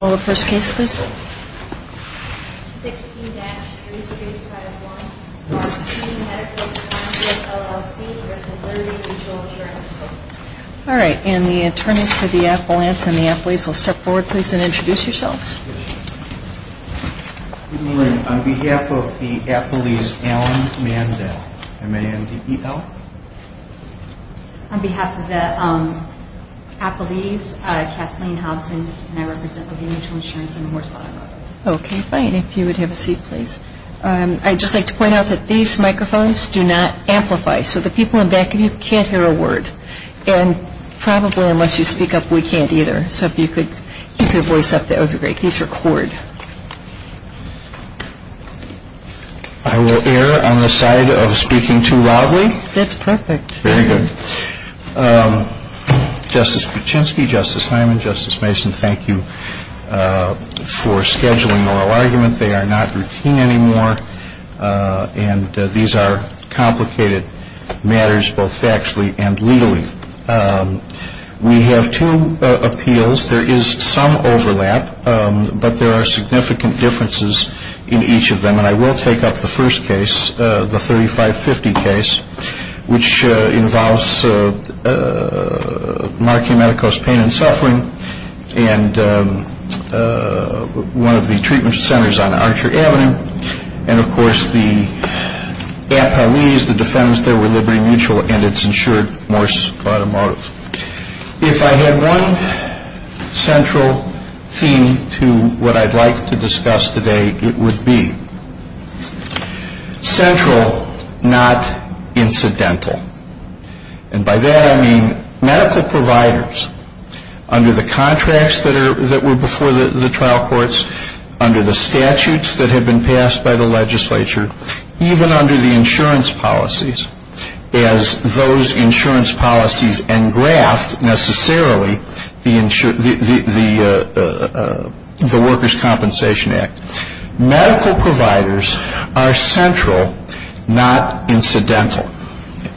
All right, and the attorneys for the affluence and the athletes will step forward, please, and introduce yourselves. On behalf of the athletes, I'm Kathleen Hopkins, and I represent Liberty Mutual Insurance in Horsfield. Okay, fine. If you would have a seat, please. I'd just like to point out that these microphones do not amplify, so the people in the back of you can't hear a word. And probably unless you speak up, we can't either, so if you could keep your voice up, that would be great. Please record. I will err on the side of speaking too loudly. That's perfect. Very good. Justice Kuczynski, Justice Hyman, Justice Mason, thank you for scheduling our argument. They are not routine anymore, and these are complicated matters both factually and legally. We have two appeals. There is some overlap, but there are significant differences in each of them, and I will take up the first case, the 3550 case, which involves Monarchia Medicos, pain and suffering, and one of the treatment centers on Archer Avenue, and, of course, the appellees, the defendants there were Liberty Mutual, and it's insured, Morris Audemars. If I had one central theme to what I'd like to discuss today, it would be central, not incidental, and by that I mean medical providers under the contracts that were before the trial courts, under the statutes that had been passed by the legislature, even under the insurance policies, as those insurance policies engraft, necessarily, the Workers' Compensation Act. Medical providers are central, not incidental.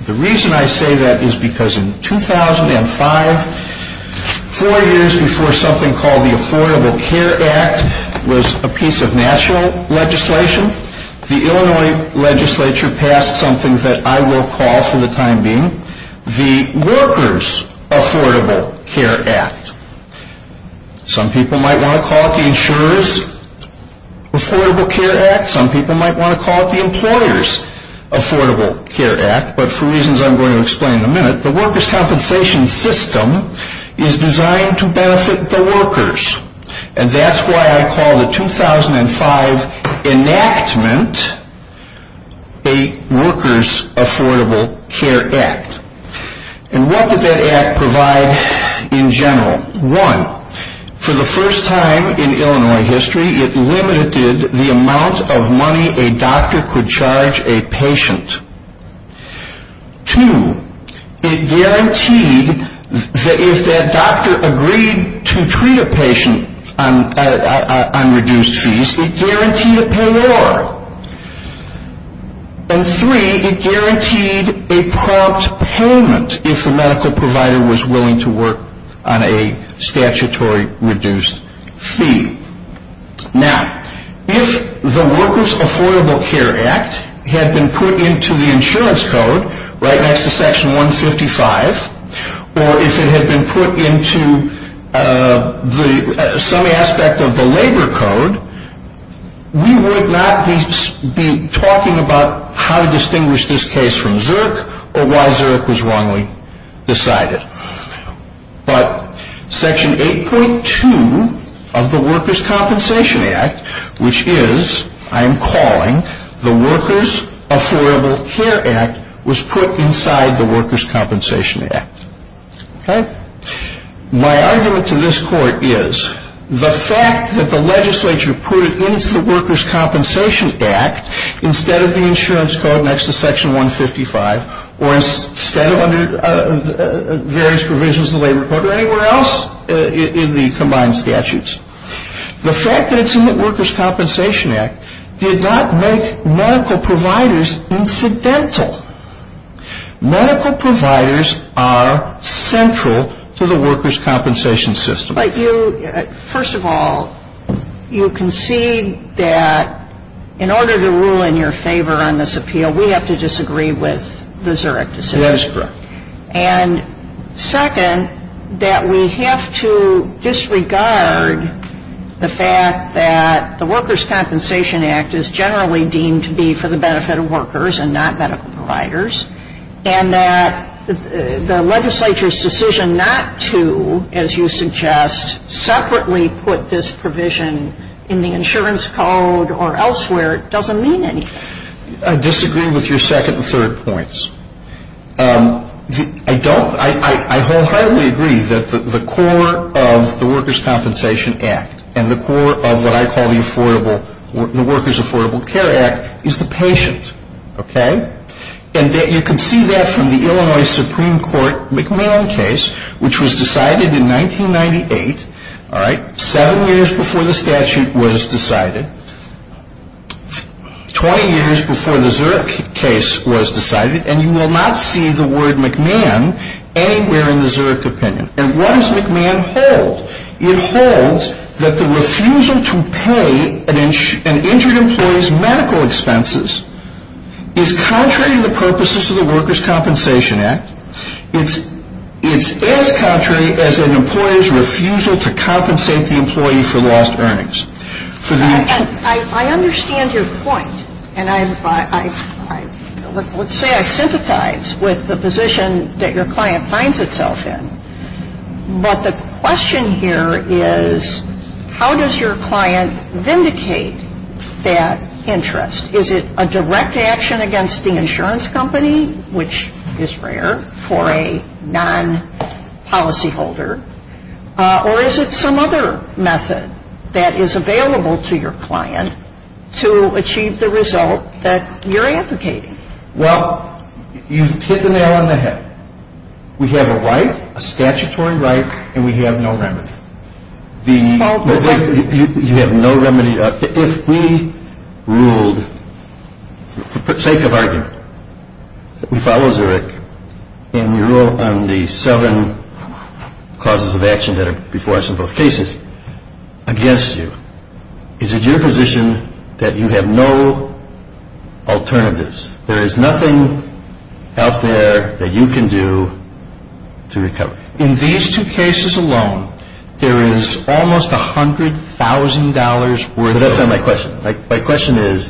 The reason I say that is because in 2005, four years before something called the Affordable Care Act was a piece of national legislation, the Illinois legislature passed something that I will call, for the time being, the Workers' Affordable Care Act. Some people might want to call it the Insurer's Affordable Care Act. Some people might want to call it the Employer's Affordable Care Act, but for reasons I'm going to explain in a minute, the Workers' Compensation System is designed to benefit the workers, and that's why I call the 2005 enactment a Workers' Affordable Care Act. And what does that act provide in general? One, for the first time in Illinois history, it limited the amount of money a doctor could charge a patient. Two, it guaranteed that if that doctor agreed to treat a patient on reduced fees, it guaranteed a payor. And three, it guaranteed a prompt payment if a medical provider was willing to work on a statutory reduced fee. Now, if the Workers' Affordable Care Act had been put into the insurance code, right next to Section 155, or if it had been put into some aspect of the labor code, we would not be talking about how to distinguish this case from Zerk or why Zerk was wrongly decided. But Section 8.2 of the Workers' Compensation Act, which is, I am calling, the Workers' Affordable Care Act, was put inside the Workers' Compensation Act. Okay? My argument to this court is, the fact that the legislature put it into the Workers' Compensation Act, instead of the insurance code next to Section 155, or instead of under various provisions of the labor code or anywhere else in the combined statutes, the fact that it's in the Workers' Compensation Act did not make medical providers incidental. Medical providers are central to the workers' compensation system. But you, first of all, you concede that in order to rule in your favor on this appeal, we have to disagree with the Zerk decision. Yes, correct. And second, that we have to disregard the fact that the Workers' Compensation Act is generally deemed to be for the benefit of workers and not medical providers, and that the legislature's decision not to, as you suggest, separately put this provision in the insurance code or elsewhere doesn't mean anything. I disagree with your second and third points. I don't. I wholeheartedly agree that the core of the Workers' Compensation Act and the core of what I call the Workers' Affordable Care Act is the patient. Okay? And that you can see that from the Illinois Supreme Court McMillan case, which was decided in 1998, seven years before the statute was decided, 20 years before the Zerk case was decided, and you will not see the word McMillan anywhere in the Zerk opinion. And what does McMillan hold? It holds that the refusal to pay an injured employee's medical expenses is contrary to the purposes of the Workers' Compensation Act. It's as contrary as an employee's refusal to compensate the employee for lost earnings. I understand your point, and let's say I sympathize with the position that your client finds itself in, but the question here is how does your client vindicate that interest? Is it a direct action against the insurance company, which is rare for a non-policyholder, or is it some other method that is available to your client to achieve the result that you're advocating? Well, you've hit the nail on the head. We have a right, a statutory right, and we have no remedy. You have no remedy. If we ruled for the sake of argument, we follow Zerk, and we rule on the seven causes of action that are before us in both cases against you, is it your position that you have no alternatives? There is nothing out there that you can do to recover. In these two cases alone, there is almost $100,000 worth of— That's not my question. My question is—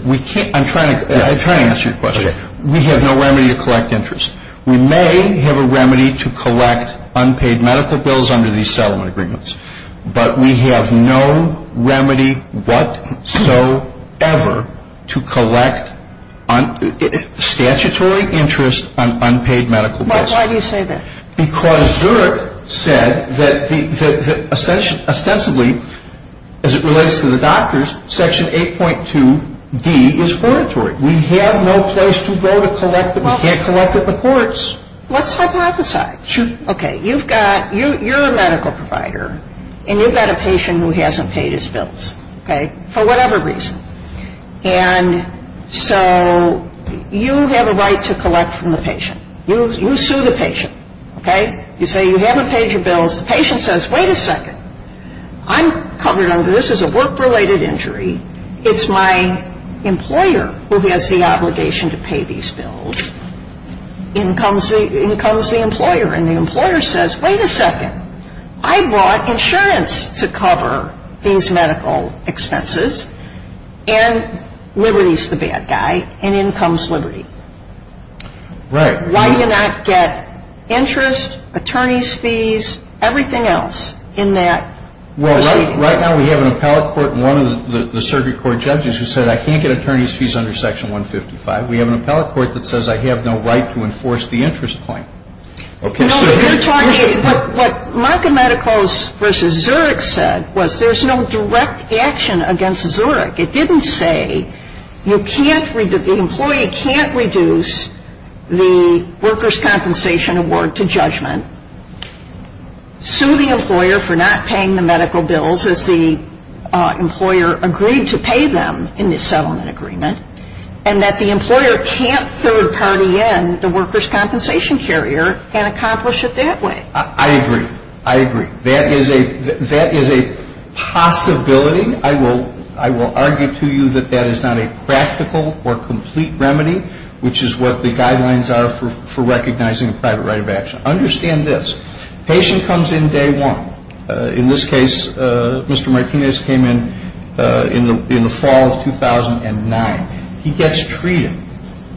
I'm trying to answer your question. We have no remedy to collect interest. We may have a remedy to collect unpaid medical bills under these settlement agreements, but we have no remedy whatsoever to collect statutory interest on unpaid medical bills. Why do you say that? Because Zerk said that ostensibly, as it relates to the doctors, Section 8.2d is oratory. We have no place to go to collect—we can't collect at the courts. Let's hypothesize. Okay, you're a medical provider, and you've got a patient who hasn't paid his bills, for whatever reason. And so you have a right to collect from the patient. You sue the patient, okay? You say you haven't paid your bills. The patient says, wait a second. I'm covered under this as a work-related injury. It's my employer who has the obligation to pay these bills. In comes the employer, and the employer says, wait a second. I brought insurance to cover these medical expenses, and Liberty's the bad guy, and in comes Liberty. Right. Why do you not get interest, attorney's fees, everything else in that? Well, right now we have an appellate court and one of the circuit court judges who said, I can't get attorney's fees under Section 155. We have an appellate court that says I have no right to enforce the interest claim. Okay, so— No, you're talking—what Markham Medicals v. Zerk said was there's no direct action against Zerk. It didn't say you can't—the employee can't reduce the workers' compensation award to judgment, sue the employer for not paying the medical bills if the employer agreed to pay them in the settlement agreement, and that the employer can't third-party in the workers' compensation carrier and accomplish it that way. I agree. I agree. That is a possibility. I will argue to you that that is not a practical or complete remedy, which is what the guidelines are for recognizing a private right of action. Understand this. Patient comes in day one. In this case, Mr. Martinez came in in the fall of 2009. He gets treated.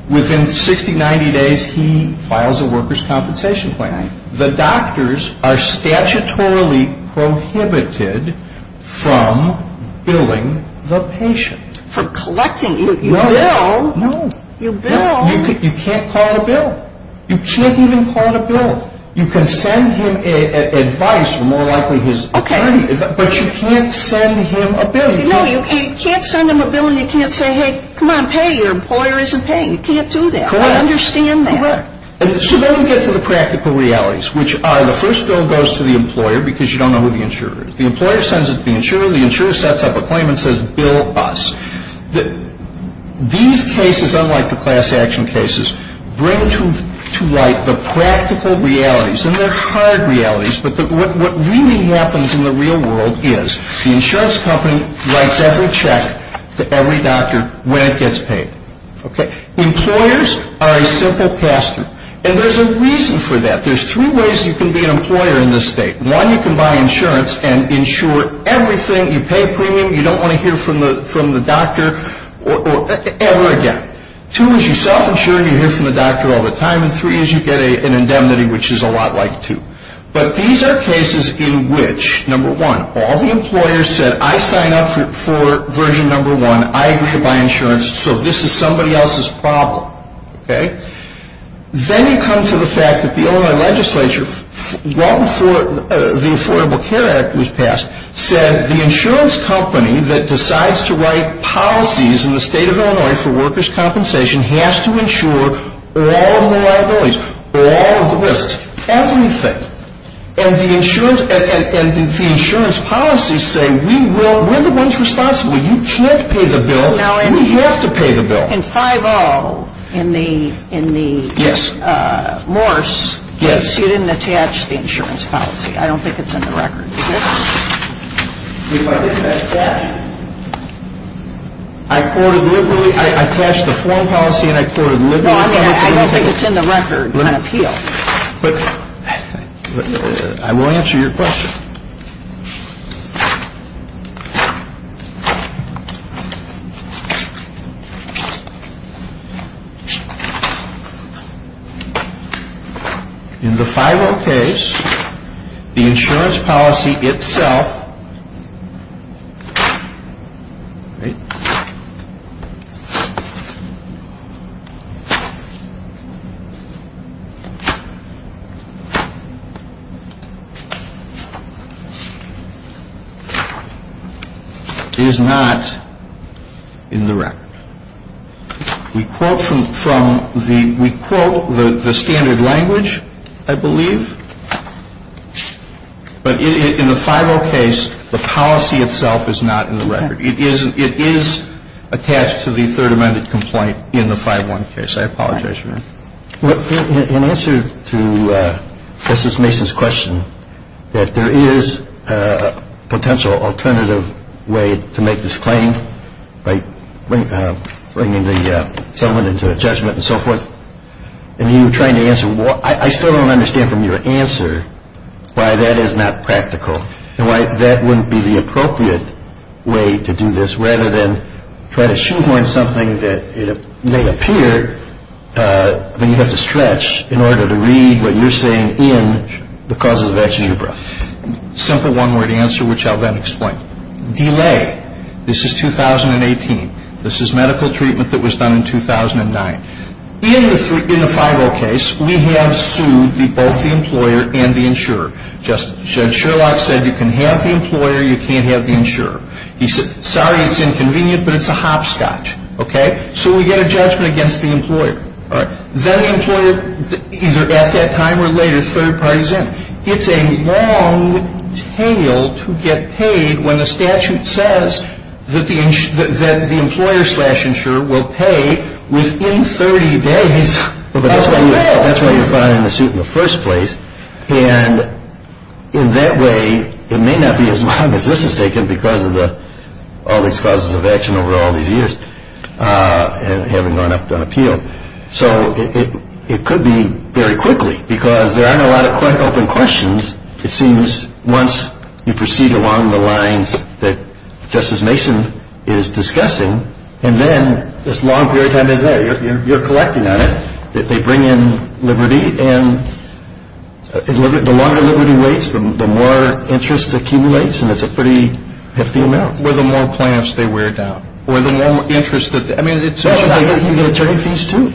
Within 60, 90 days, he files a workers' compensation claim. The doctors are statutorily prohibited from billing the patient. From collecting? You bill? No. You bill? You can't call a bill. You can't even call a bill. You can send him advice, more likely his attorney, but you can't send him a bill. No, you can't send him a bill and you can't say, hey, come on, pay, your employer isn't paying. You can't do that. Correct. I understand that. So then we get to the practical realities, which are the first bill goes to the employer because you don't know who the insurer is. The employer sends it to the insurer. The insurer sets up a claim and says, bill us. These cases, unlike the class action cases, bring to light the practical realities, and they're hard realities, but what really happens in the real world is the insurance company writes every check to every doctor when it gets paid. Employers are a simple pastor, and there's a reason for that. There's three ways you can be an employer in this state. One, you can buy insurance and insure everything. You pay premium. You don't want to hear from the doctor ever again. Two is you self-insure and you hear from the doctor all the time, and three is you get an indemnity, which is a lot like two. But these are cases in which, number one, all the employers said, I signed up for version number one. I agree to buy insurance, so this is somebody else's problem. Then you come to the fact that the Illinois legislature, right before the Affordable Care Act was passed, said the insurance company that decides to write policies in the state of Illinois for workers' compensation has to insure all the liabilities, all the risks, everything, and the insurance policies say we're the ones responsible. You can't pay the bill. We have to pay the bill. In 5.0, in the Morse, you didn't attach the insurance policy. I don't think it's in the record. You might attach that. I quoted liberally. I attached the foreign policy, and I quoted liberally. I don't think it's in the record. But I will answer your question. In the 5.0 case, the insurance policy itself is not in the record. We quote the standard language, I believe. But in the 5.0 case, the policy itself is not in the record. It is attached to the third amendment complaint in the 5.1 case. I apologize for that. In answer to Justice Mason's question, that there is a potential alternative way to make this claim, like bringing the gentleman into a judgment and so forth, and you were trying to answer, I still don't understand from your answer why that is not practical. That wouldn't be the appropriate way to do this, rather than trying to shoehorn something that may appear when you have to stretch in order to read what you're saying in because of the vegetabra. Simple one-word answer, which I'll then explain. Delay. This is 2018. This is medical treatment that was done in 2009. In the 5.0 case, we have sued both the employer and the insurer. Judge Sherlock said you can have the employer, you can't have the insurer. He said, sorry, it's inconvenient, but it's a hopscotch. So we get a judgment against the employer. That employer, either at that time or later, is third-partisan. It's a long tail to get paid when the statute says that the employer-slash-insurer will pay within 30 days. That's why you're filing a suit in the first place. And in that way, it may not be as long as this is taking because of all these causes of action over all these years and having run up the appeal. So it could be very quickly because there aren't a lot of quite open questions. It seems once you proceed along the lines that Justice Mason is discussing, and then as long period of time as that, you're collecting on it, that they bring in liberty. And the longer liberty waits, the more interest accumulates, and it's a pretty hefty amount. Or the more plaintiffs they wear down. Or the more interest that they... I mean, it's not like you can get attorney's fees, too.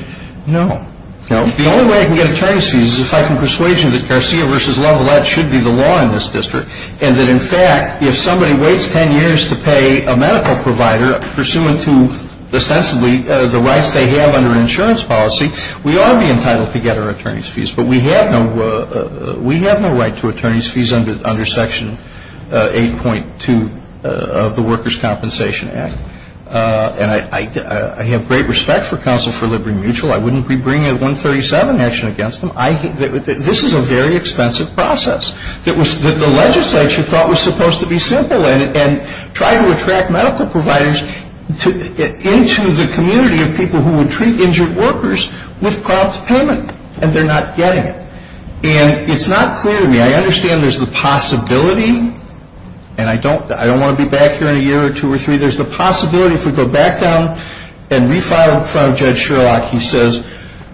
No. No? The only way I can get attorney's fees is if I can persuade you that Garcia v. Lavalette should be the law in this district and that, in fact, if somebody waits 10 years to pay a medical provider pursuant to, ostensibly, the rights they have under insurance policy, we are being entitled to get our attorney's fees. But we have no right to attorney's fees under Section 8.2 of the Workers' Compensation Act. And I have great respect for Counsel for Liberty and Mutual. I wouldn't be bringing a 137 action against them. I think that this is a very expensive process that the legislature thought was supposed to be simple and try to attract medical providers into the community of people who would treat injured workers with cost payment, and they're not getting it. And it's not clear to me. I understand there's the possibility, and I don't want to be back here in a year or two or three. There's the possibility, if we go back down and refile Judge Sherlock, he says,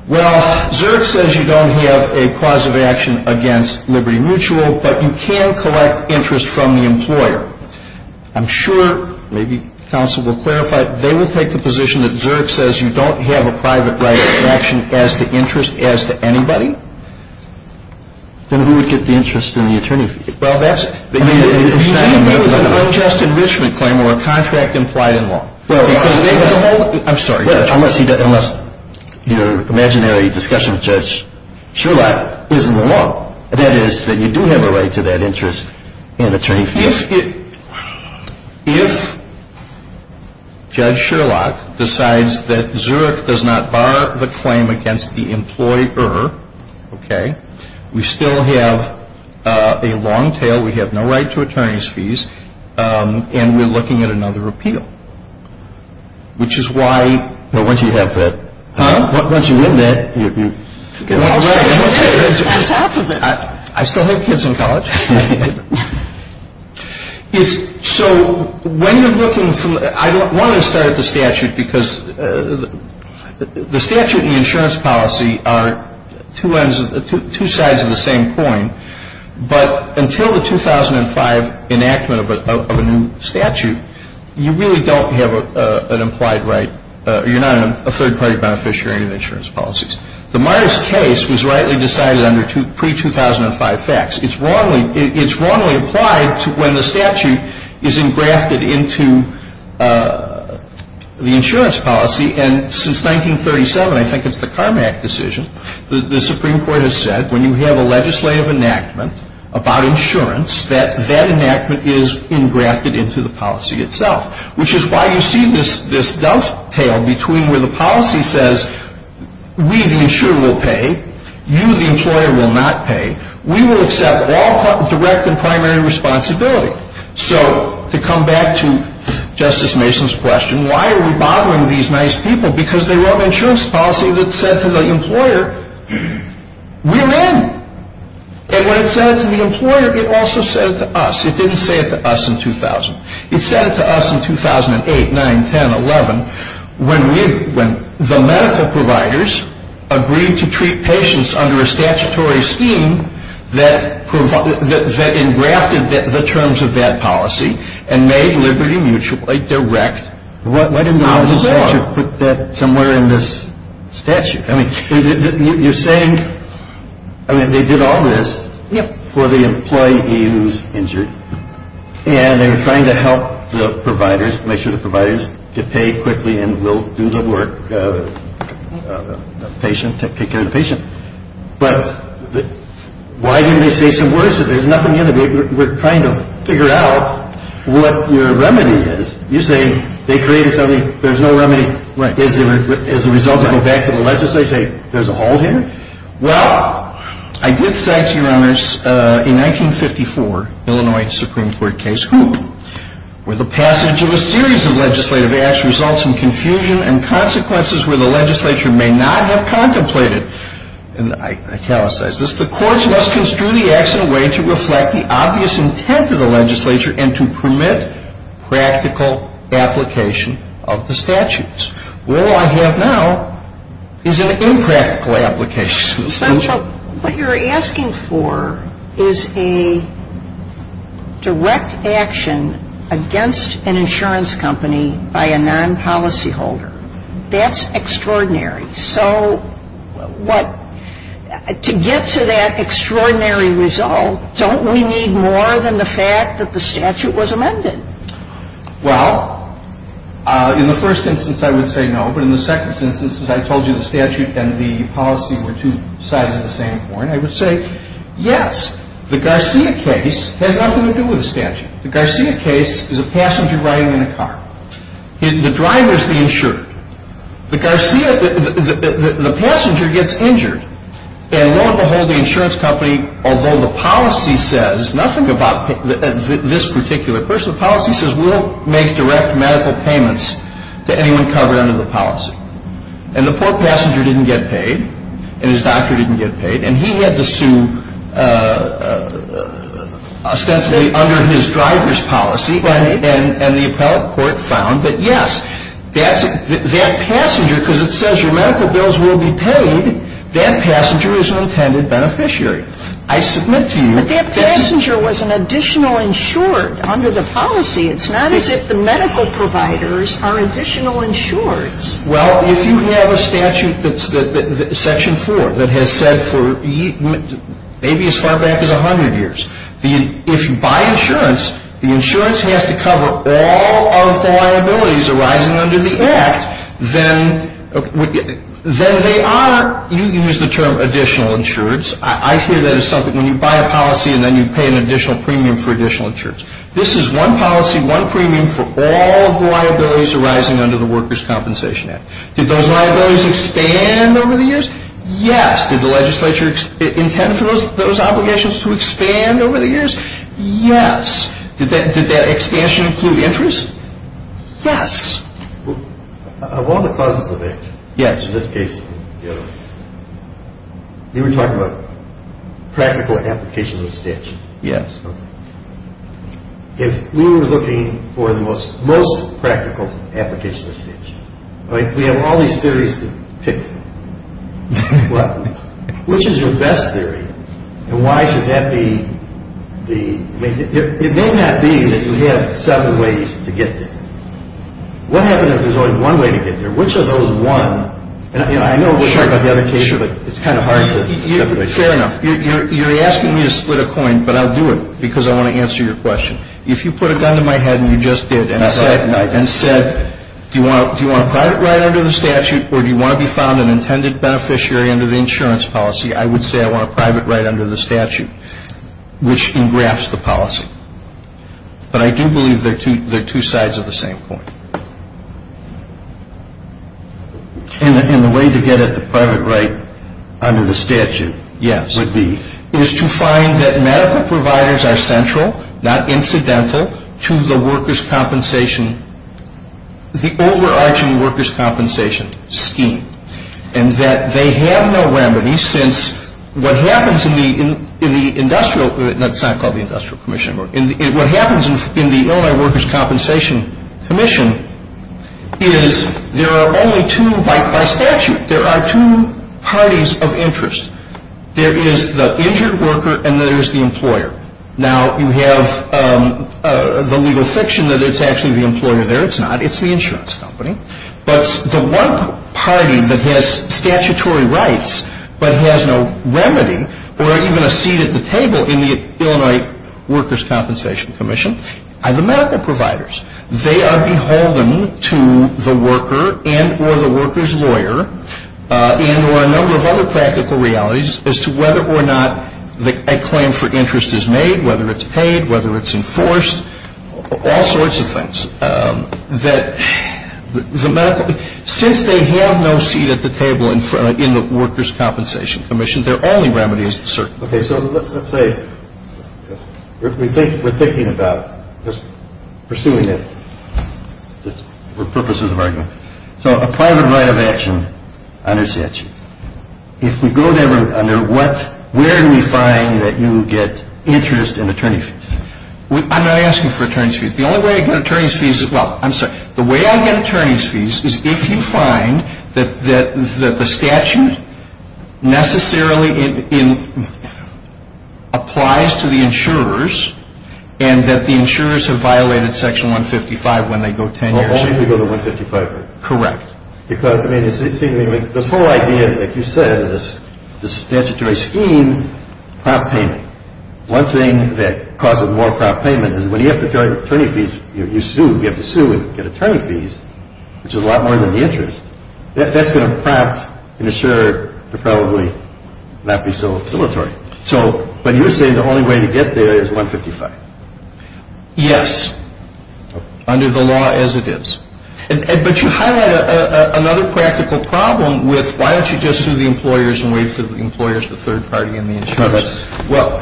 well, Zerk says you don't have a cause of action against Liberty Mutual, but you can collect interest from the employer. I'm sure, maybe Counsel will clarify, they would take the position that Zerk says you don't have a private right to action as to interest as to anybody? Then who would get the interest in the attorney's fees? Well, that's... It's an unjust enrichment claim where a contract implies more. I'm sorry, Judge. Unless your imaginary discussion with Judge Sherlock is more, that is, that you do have a right to that interest in the attorney's fees. If Judge Sherlock decides that Zerk does not bar the claim against the employer, we still have a long tail, we have no right to attorney's fees, and we're looking at another appeal. Which is why... Well, once you have that... Huh? Once you win that, you... I'm talking about... I still have kids in college. So, when you're looking from... I wanted to start at the statute because the statute and the insurance policy are two sides of the same coin. But until the 2005 enactment of a new statute, you really don't have an implied right. You're not a third-party beneficiary of insurance policies. The Myers case was rightly decided under pre-2005 facts. It's wrongly applied to when the statute is engrafted into the insurance policy. And since 1937, I think it's the Carmack decision, the Supreme Court has said, when you have a legislative enactment about insurance, that that enactment is engrafted into the policy itself. Which is why you see this dovetail between where the policy says, we, the insurer, will pay, you, the employer, will not pay, we will accept all direct and primary responsibility. So, to come back to Justice Mason's question, why are we bothering these nice people? Because they wrote an insurance policy that said to the employer, we're in. And when it said it to the employer, it also said it to us. It didn't say it to us in 2000. It said it to us in 2008, 9, 10, 11, When the medical providers agreed to treat patients under a statutory scheme that engrafted the terms of that policy, and made liberty mutually direct, why didn't the legislature put that somewhere in this statute? I mean, you're saying they did all this for the employee who was injured. And they were trying to help the providers, to pay quickly and do the work of taking care of the patient. But, why didn't they say some words? There's nothing in it. We're trying to figure out what the remedy is. You're saying they created something, there's no remedy, as a result of a lack of legislature, saying there's all here? Well, I did say to you on this, in 1954, Illinois Supreme Court case, where the passage of a series of legislative acts results in confusion and consequences where the legislature may not have contemplated, and I italicize this, the courts must construe the acts in a way to reflect the obvious intent of the legislature and to permit practical application of the statutes. All I have now is an impractical application. What you're asking for is a direct action against an insurance company by a non-policy holder. That's extraordinary. So, to get to that extraordinary result, don't we need more than the fact that the statute was amended? Well, in the first instance I would say no, but in the second instance, as I told you, the statute and the policy were two sides of the same coin. I would say, yes, the Garcia case has nothing to do with the statute. The Garcia case is a passenger riding in a car. The driver is being insured. The passenger gets injured, and lo and behold, the insurance company, although the policy says nothing about this particular person, the policy says we'll make direct medical payments to anyone covered under the policy. And the poor passenger didn't get paid, and his doctor didn't get paid, and he had to sue essentially under his driver's policy, and the appellate court found that, yes, that passenger, because it says your medical bills will be paid, that passenger is an intended beneficiary. But that passenger was an additional insured under the policy. It's not as if the medical providers are additional insureds. Well, if you have a statute, Section 4, that has said for maybe as far back as 100 years, if you buy insurance, the insurance has to cover all of the liabilities arising under the Act. Then they are, you can use the term additional insureds. I hear that as something, when you buy a policy, and then you pay an additional premium for additional insureds. This is one policy, one premium for all the liabilities arising under the Workers' Compensation Act. Did those liabilities expand over the years? Yes. Did the legislature intend for those obligations to expand over the years? Yes. Did that expansion include interest? Yes. One of the possible things, in this case, you were talking about practical application of the statute. Yes. If we were looking for the most practical application of the statute, we have all these theories to pick from. Which is your best theory, and why should that be? It may not be that you have seven ways to get there. What happens if there is only one way to get there? Which of those one, and I know we will talk about the other case, but it is kind of hard. Fair enough. You are asking me to split a coin, but I will do it, because I want to answer your question. If you put a gun to my head, and you just did, and said, do you want to private write under the statute, or do you want to be found an intended beneficiary under the insurance policy, I would say I want to private write under the statute, which engrafts the policy. But I do believe they are two sides of the same coin. And the way to get it private write under the statute would be? Yes. It is to find that medical providers are central, not incidental, to the workers' compensation, the overarching workers' compensation scheme, and that they have no remedy since what happens in the industrial, that is not called the industrial commission. What happens in the Illinois workers' compensation commission is there are only two, by statute, there are two parties of interest. There is the injured worker, and there is the employer. Now, you have the legal section that it is actually the employer there. It is not. It is the insurance company. But the one party that has statutory rights, but has no remedy, or even a seat at the table in the Illinois workers' compensation commission, are the medical providers. They are beholden to the worker and or the worker's lawyer, and there are a number of other practical realities as to whether or not a claim for interest is made, whether it is paid, whether it is enforced, all sorts of things. Since they have no seat at the table in the workers' compensation commission, there are only remedies, certainly. Okay, so let's say we are thinking about pursuing this for purposes of argument. So a private right of action under statute. If we go under where do we find that you get interest in attorney fees? I am not asking for attorney fees. The way I get attorney fees is if you find that the statute necessarily applies to the insurers, and that the insurers have violated section 155 when they go to tenure. Well, only if you go to 155. Correct. The poor idea, as you said, is the statutory scheme, crop payment. One thing that causes more crop payment is when you have to sue and get attorney fees, which is a lot more than the interest, that is going to prompt an insurer to probably not be so utilitarian. So when you say the only way to get there is 155. Yes, under the law as it is. But you have another practical problem with why don't you just sue the employers and wait until the employer is the third party in the interest? Well,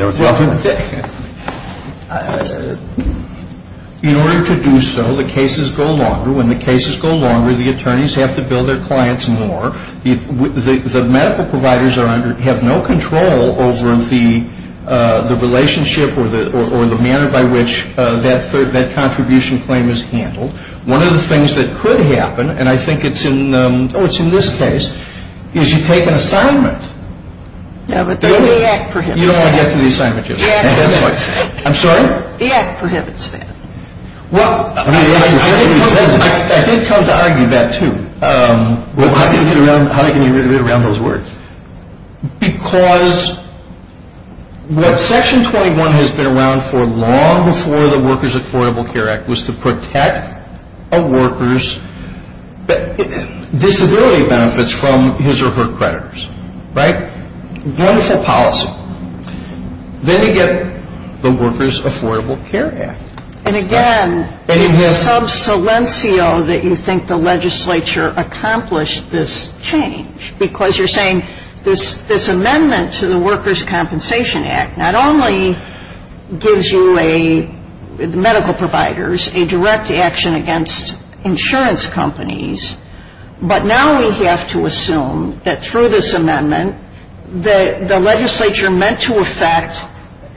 in order to do so, the cases go longer. When the cases go longer, the attorneys have to bill their clients more. The medical providers have no control over the relationship or the manner by which that contribution claim is handled. One of the things that could happen, and I think it is in this case, is you take an assignment. You don't want to get through these signatures. I'm sorry? The act prohibits that. Well, I think it comes down to that too. How do you get rid of it around those words? Because what Section 21 has been around for long before the Workers' Affordable Care Act was to protect a worker's disability benefits from his or her creditors. Right? Wonderful policy. Then you get the Workers' Affordable Care Act. And again, it is sub salientio that you think the legislature accomplished this change because you're saying this amendment to the Workers' Compensation Act not only gives medical providers a direct action against insurance companies, but now we have to assume that through this amendment that the legislature meant to affect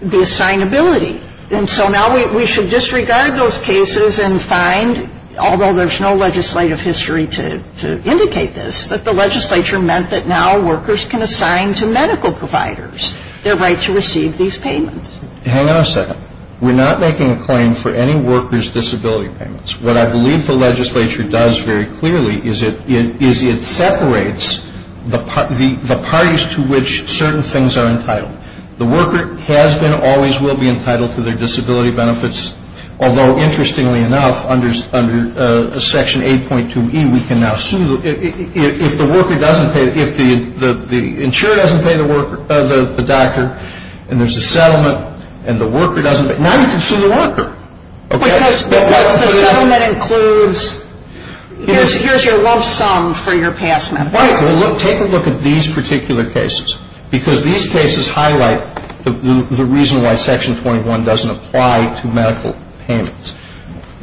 the assignability. And so now we should disregard those cases and find, although there's no legislative history to indicate this, that the legislature meant that now workers can assign to medical providers their right to receive these payments. Hang on a second. We're not making a claim for any worker's disability payments. What I believe the legislature does very clearly is it separates the parties to which certain things are entitled. The worker has been or always will be entitled to their disability benefits, although interestingly enough under Section 8.2e we can now assume that if the worker doesn't pay, if the insurer doesn't pay the doctor and there's a settlement and the worker doesn't pay, now you can see the worker. Because the settlement includes, here's your lump sum for your past medical care. Right. Well, take a look at these particular cases because these cases highlight the reason why Section 21 doesn't apply to medical payments.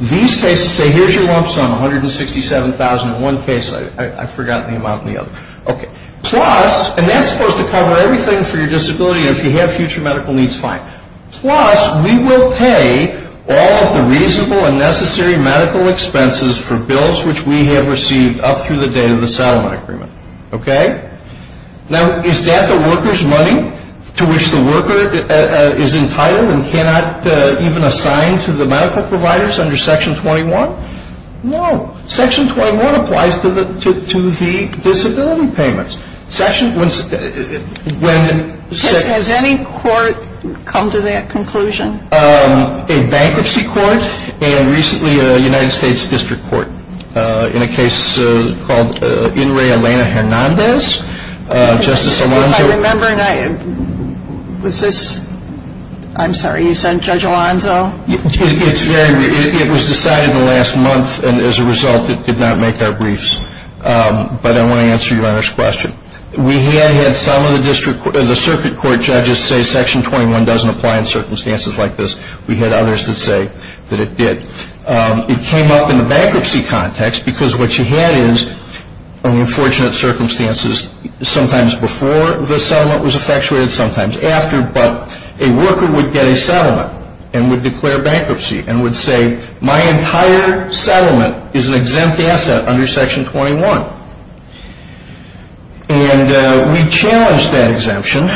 These cases say, here's your lump sum, $167,000 in one case. I've forgotten the amount in the other. Okay. Plus, and that's supposed to cover everything for your disability and if you have future medical needs, fine. Plus, we will pay all the reasonable and necessary medical expenses for bills which we have received up through the day of the settlement agreement. Okay? Now, is that the worker's money to which the worker is entitled and cannot even assign to the medical providers under Section 21? No. Section 21 applies to the disability payments. Has any court come to that conclusion? A bankruptcy court and recently a United States District Court in a case called In re Elena Hernandez. I'm sorry, you said Judge Alonzo? It was decided in the last month and as a result it did not make our briefs. But I want to answer your honest question. We have had some of the circuit court judges say Section 21 doesn't apply in circumstances like this. We've had others that say that it did. It came up in the bankruptcy context because what you had is unfortunate circumstances sometimes before the settlement was effectuated, sometimes after. But a worker would get a settlement and would declare bankruptcy and would say my entire settlement is an exempt asset under Section 21. And we challenged that exemption.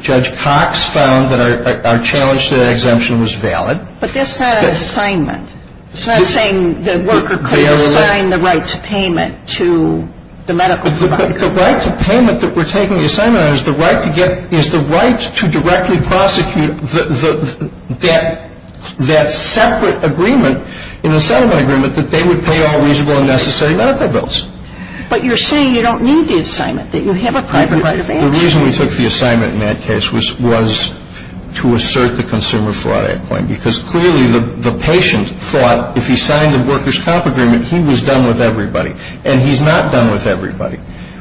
Judge Cox found that our challenge to that exemption was valid. But this had an assignment. So you're saying the worker could assign the right to payment to the medical provider? The right to payment that we're taking the assignment on is the right to get, is the right to directly prosecute that separate agreement in the settlement agreement that they would pay all reasonable and necessary medical bills. But you're saying you don't need the assignment, that you have a private right of answer. The reason we took the assignment in that case was to assert the Consumer Fraud Act claim because clearly the patient thought if he signed the workers' comp agreement, he was done with everybody. And he's not done with everybody.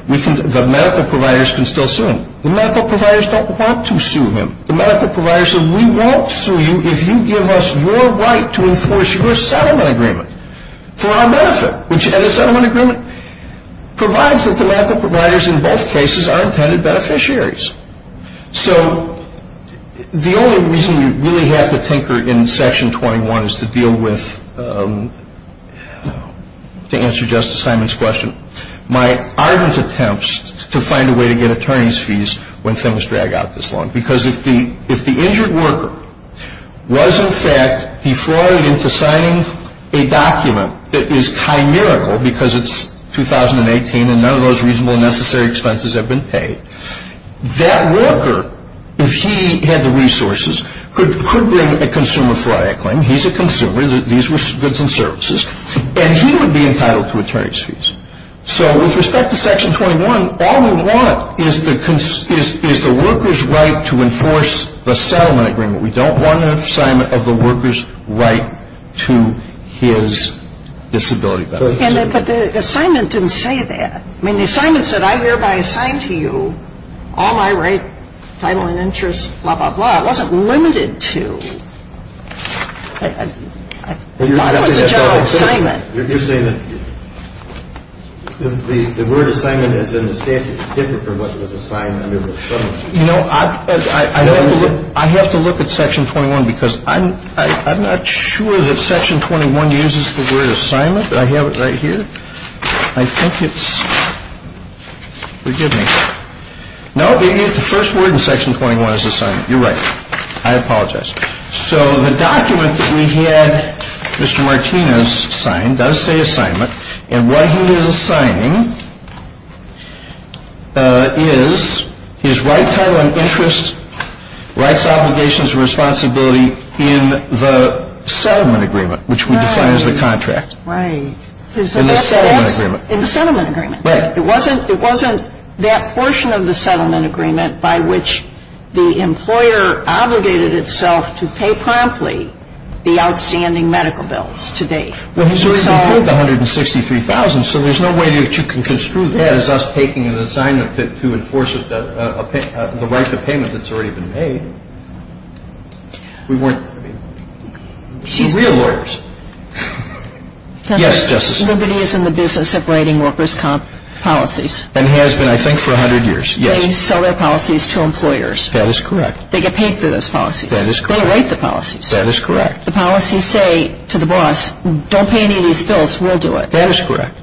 The medical providers can still sue him. The medical providers don't want to sue him. The medical providers say we won't sue you if you give us your right to enforce your settlement agreement for our benefit. And the settlement agreement provides that the medical providers in both cases are intended beneficiaries. So the only reason you really have to tinker in Section 21 is to deal with, to answer Justice Simon's question, my ardent attempts to find a way to get attorney's fees when things drag out this long. Because if the injured worker was, in fact, defrauded into signing a document that is communicable because it's 2018 and none of those reasonable and necessary expenses have been paid, that worker, if he had the resources, could bring a Consumer Fraud Act claim. He's a consumer. These were goods and services. And he would be entitled to attorney's fees. So with respect to Section 21, all we want is the worker's right to enforce the settlement agreement. We don't want an assignment of the worker's right to his disability benefits. But the assignment didn't say that. I mean, the assignment said, I hereby assign to you all my rights, title, and interests, blah, blah, blah. It wasn't limited to. What was the general assignment? You're saying that the word assignment is in the statute different from what was assigned under the claim. You know, I have to look at Section 21 because I'm not sure that Section 21 uses the word assignment. Do I have it right here? I think it's, forgive me. No, the first word in Section 21 is assignment. You're right. I apologize. So the document that we had Mr. Martinez sign does say assignment. And what he is assigning is his rights, title, and interests, rights, obligations, and responsibility in the settlement agreement, which we define as the contract. Right. In the settlement agreement. In the settlement agreement. Right. It wasn't that portion of the settlement agreement by which the employer obligated itself to pay promptly the outstanding medical bills to date. Well, he's already paid the $163,000, so there's no way that you can construe that as us taking an assignment to enforce the right to payment that's already been paid. We weren't, I mean, the real lawyers. Yes, Justice? Nobody is in the business of writing workers' comp policies. And has been, I think, for a hundred years. They sell their policies to employers. That is correct. They get paid for those policies. That is correct. They write the policies. That is correct. The policies say to the boss, don't pay any of these bills. We'll do it. That is correct.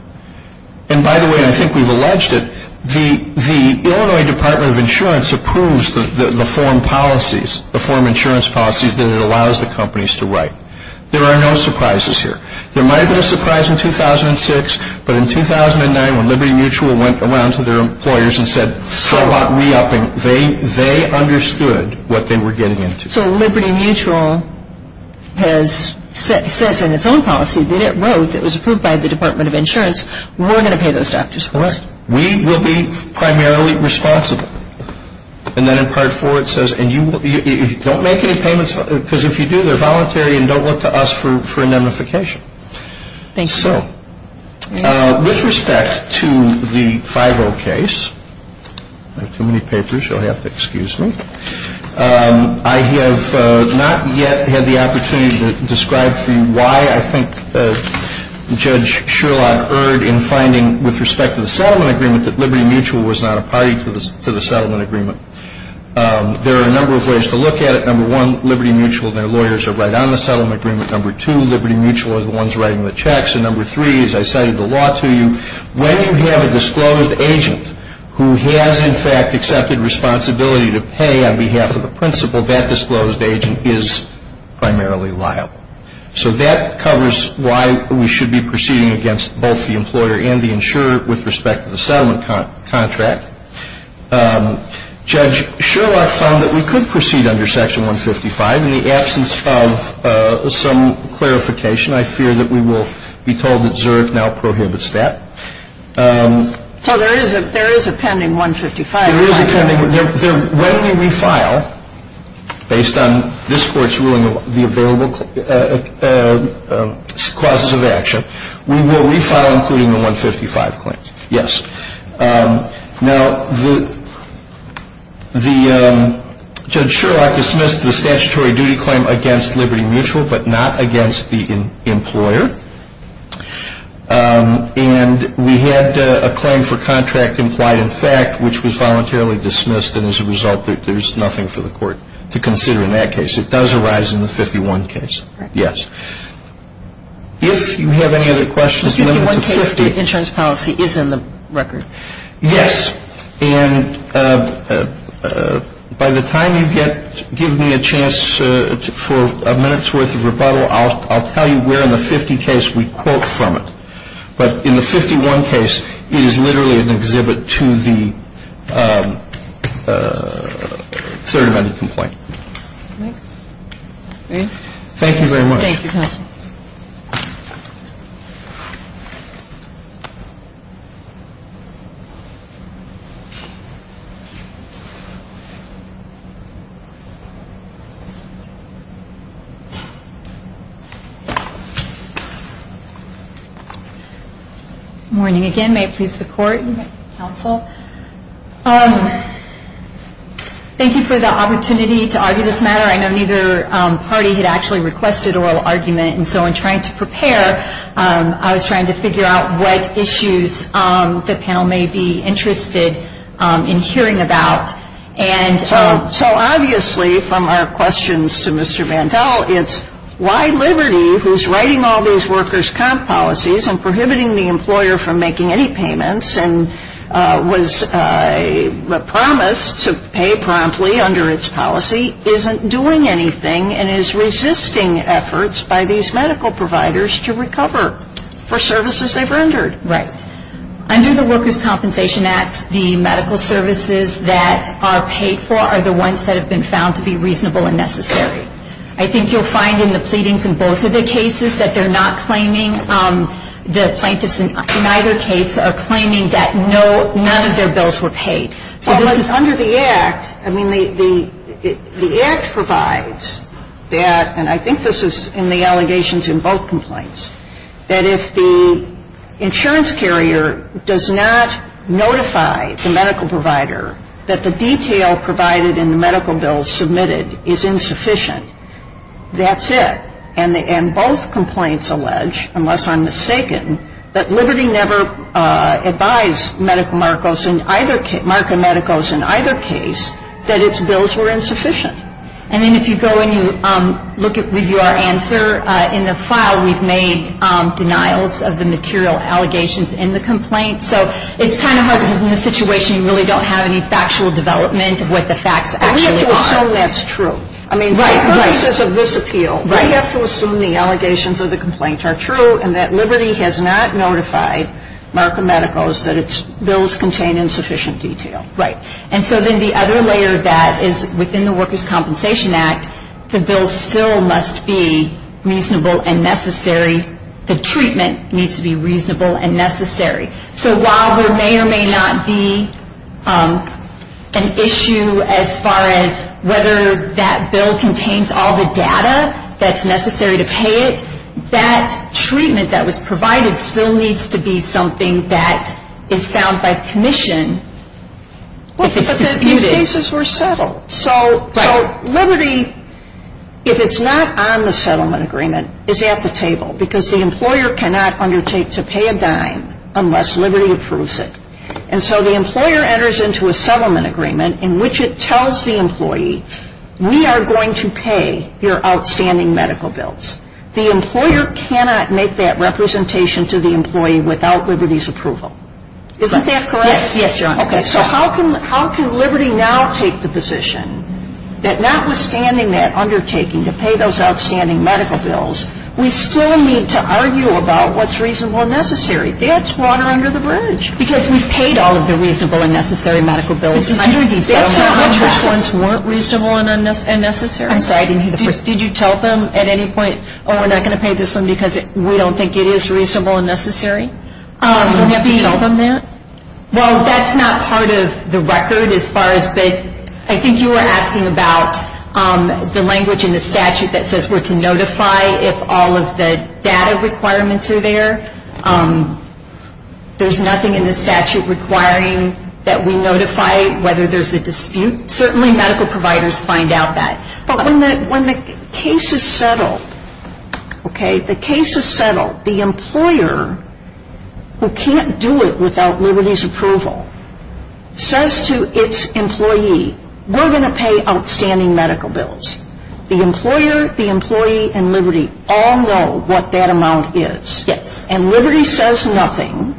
And by the way, I think we've alleged it. The Illinois Department of Insurance approves the form policies, the form insurance policies that it allows the companies to write. There are no surprises here. There might have been a surprise in 2006, but in 2009 when Liberty Mutual went around to their employers and said, how about me? They understood what they were getting into. So Liberty Mutual has said in its own policy that it wrote, it was approved by the Department of Insurance, we're going to pay those taxes. Correct. We will be primarily responsible. And then in Part 4 it says, and you don't make any payments, because if you do, they're voluntary and don't look to us for indemnification. Thanks, Bill. With respect to the Cairo case, I have not yet had the opportunity to describe to you why I think Judge Sherlock Erd in finding with respect to the settlement agreement that Liberty Mutual was not a party to the settlement agreement. There are a number of ways to look at it. Number one, Liberty Mutual and their lawyers are right on the settlement agreement. Number two, Liberty Mutual are the ones writing the checks. And number three, as I cited the law to you, when you have a disclosed agent who has in fact accepted responsibility to pay on behalf of the principal, that disclosed agent is primarily liable. So that covers why we should be proceeding against both the employer and the insurer with respect to the settlement contract. Judge Sherlock found that we could proceed under Section 155. In the absence of some clarification, I fear that we will be told that Zurich now prohibits that. So there is a pen in 155? There is a pen in 155. When we refile, based on this Court's ruling on the available clauses of action, we will refile including the 155 claim. Yes. Now, Judge Sherlock dismissed the statutory duty claim against Liberty Mutual, but not against the employer. And we had a claim for contract implied in fact, which was voluntarily dismissed. And as a result, there is nothing for the Court to consider in that case. It does arise in the 51 case. Yes. If you have any other questions... The 51 case insurance policy is in the record. Yes. And by the time you give me a chance for a minute's worth of rebuttal, I'll tell you where in the 50 case we quote from it. But in the 51 case, it is literally an exhibit to the third amendment complaint. Okay. Thank you very much. Thank you. Good morning again. May I please have support? Yes, counsel. Thank you for the opportunity to argue this matter. I know neither party had actually requested oral argument. And so, in trying to prepare, I was trying to figure out what issues the panel may be interested in hearing about. So, obviously, from our questions to Mr. Vandell, it's why Liberty, who's writing all these workers' comp policies and prohibiting the employer from making any payments and was promised to pay promptly under its policy, isn't doing anything and is resisting efforts by these medical providers to recover for services they've earned. Right. Under the Workers' Compensation Act, the medical services that are paid for are the ones that have been found to be reasonable and necessary. I think you'll find in the pleadings in both of the cases that they're not claiming, the plaintiffs in either case are claiming that none of their bills were paid. Under the act, I mean, the act provides that, and I think this is in the allegations in both complaints, that if the insurance carrier does not notify the medical provider that the detail provided in the medical bill submitted is insufficient, that's it. And both complaints allege, unless I'm mistaken, that Liberty never advised Marco Medicals in either case that its bills were insufficient. And then if you go and you review our answer, in the file we've made denials of the material allegations in the complaint. So it's kind of hard because in this situation you really don't have any factual development of what the facts actually are. We have to assume that's true. I mean, for the purposes of this appeal, we have to assume the allegations of the complaints are true and that Liberty has not notified Marco Medicals that its bills contain insufficient detail. Right. And so then the other layer of that is within the Workers' Compensation Act, the bill still must be reasonable and necessary, the treatment needs to be reasonable and necessary. So while there may or may not be an issue as far as whether that bill contains all the data that's necessary to pay it, that treatment that was provided still needs to be something that is found by commission. But the cases were settled. So Liberty, if it's not on the settlement agreement, is at the table because the employer cannot undertake to pay a dime unless Liberty approves it. And so the employer enters into a settlement agreement in which it tells the employee, we are going to pay your outstanding medical bills. The employer cannot make that representation to the employee without Liberty's approval. Isn't that correct? Yes, yes, John. Okay, so how can Liberty now take the position that notwithstanding that undertaking to pay those outstanding medical bills, we still need to argue about what's reasonable and necessary? That's water under the bridge. Because we've paid all of the reasonable and necessary medical bills. But you didn't say those ones weren't reasonable and necessary. I'm sorry, I didn't hear the question. Did you tell them at any point, oh, we're not going to pay this one because we don't think it is reasonable and necessary? No. And what do you know from that? Well, that's not part of the record as far as, but I think you were asking about the language in the statute that says we're to notify if all of the data requirements are there. There's nothing in the statute requiring that we notify whether there's a dispute. Certainly medical providers find out that. But when the case is settled, okay, the case is settled, the employer, who can't do it without Liberty's approval, says to its employee, we're going to pay outstanding medical bills. The employer, the employee, and Liberty all know what that amount is. Yes. And Liberty says nothing,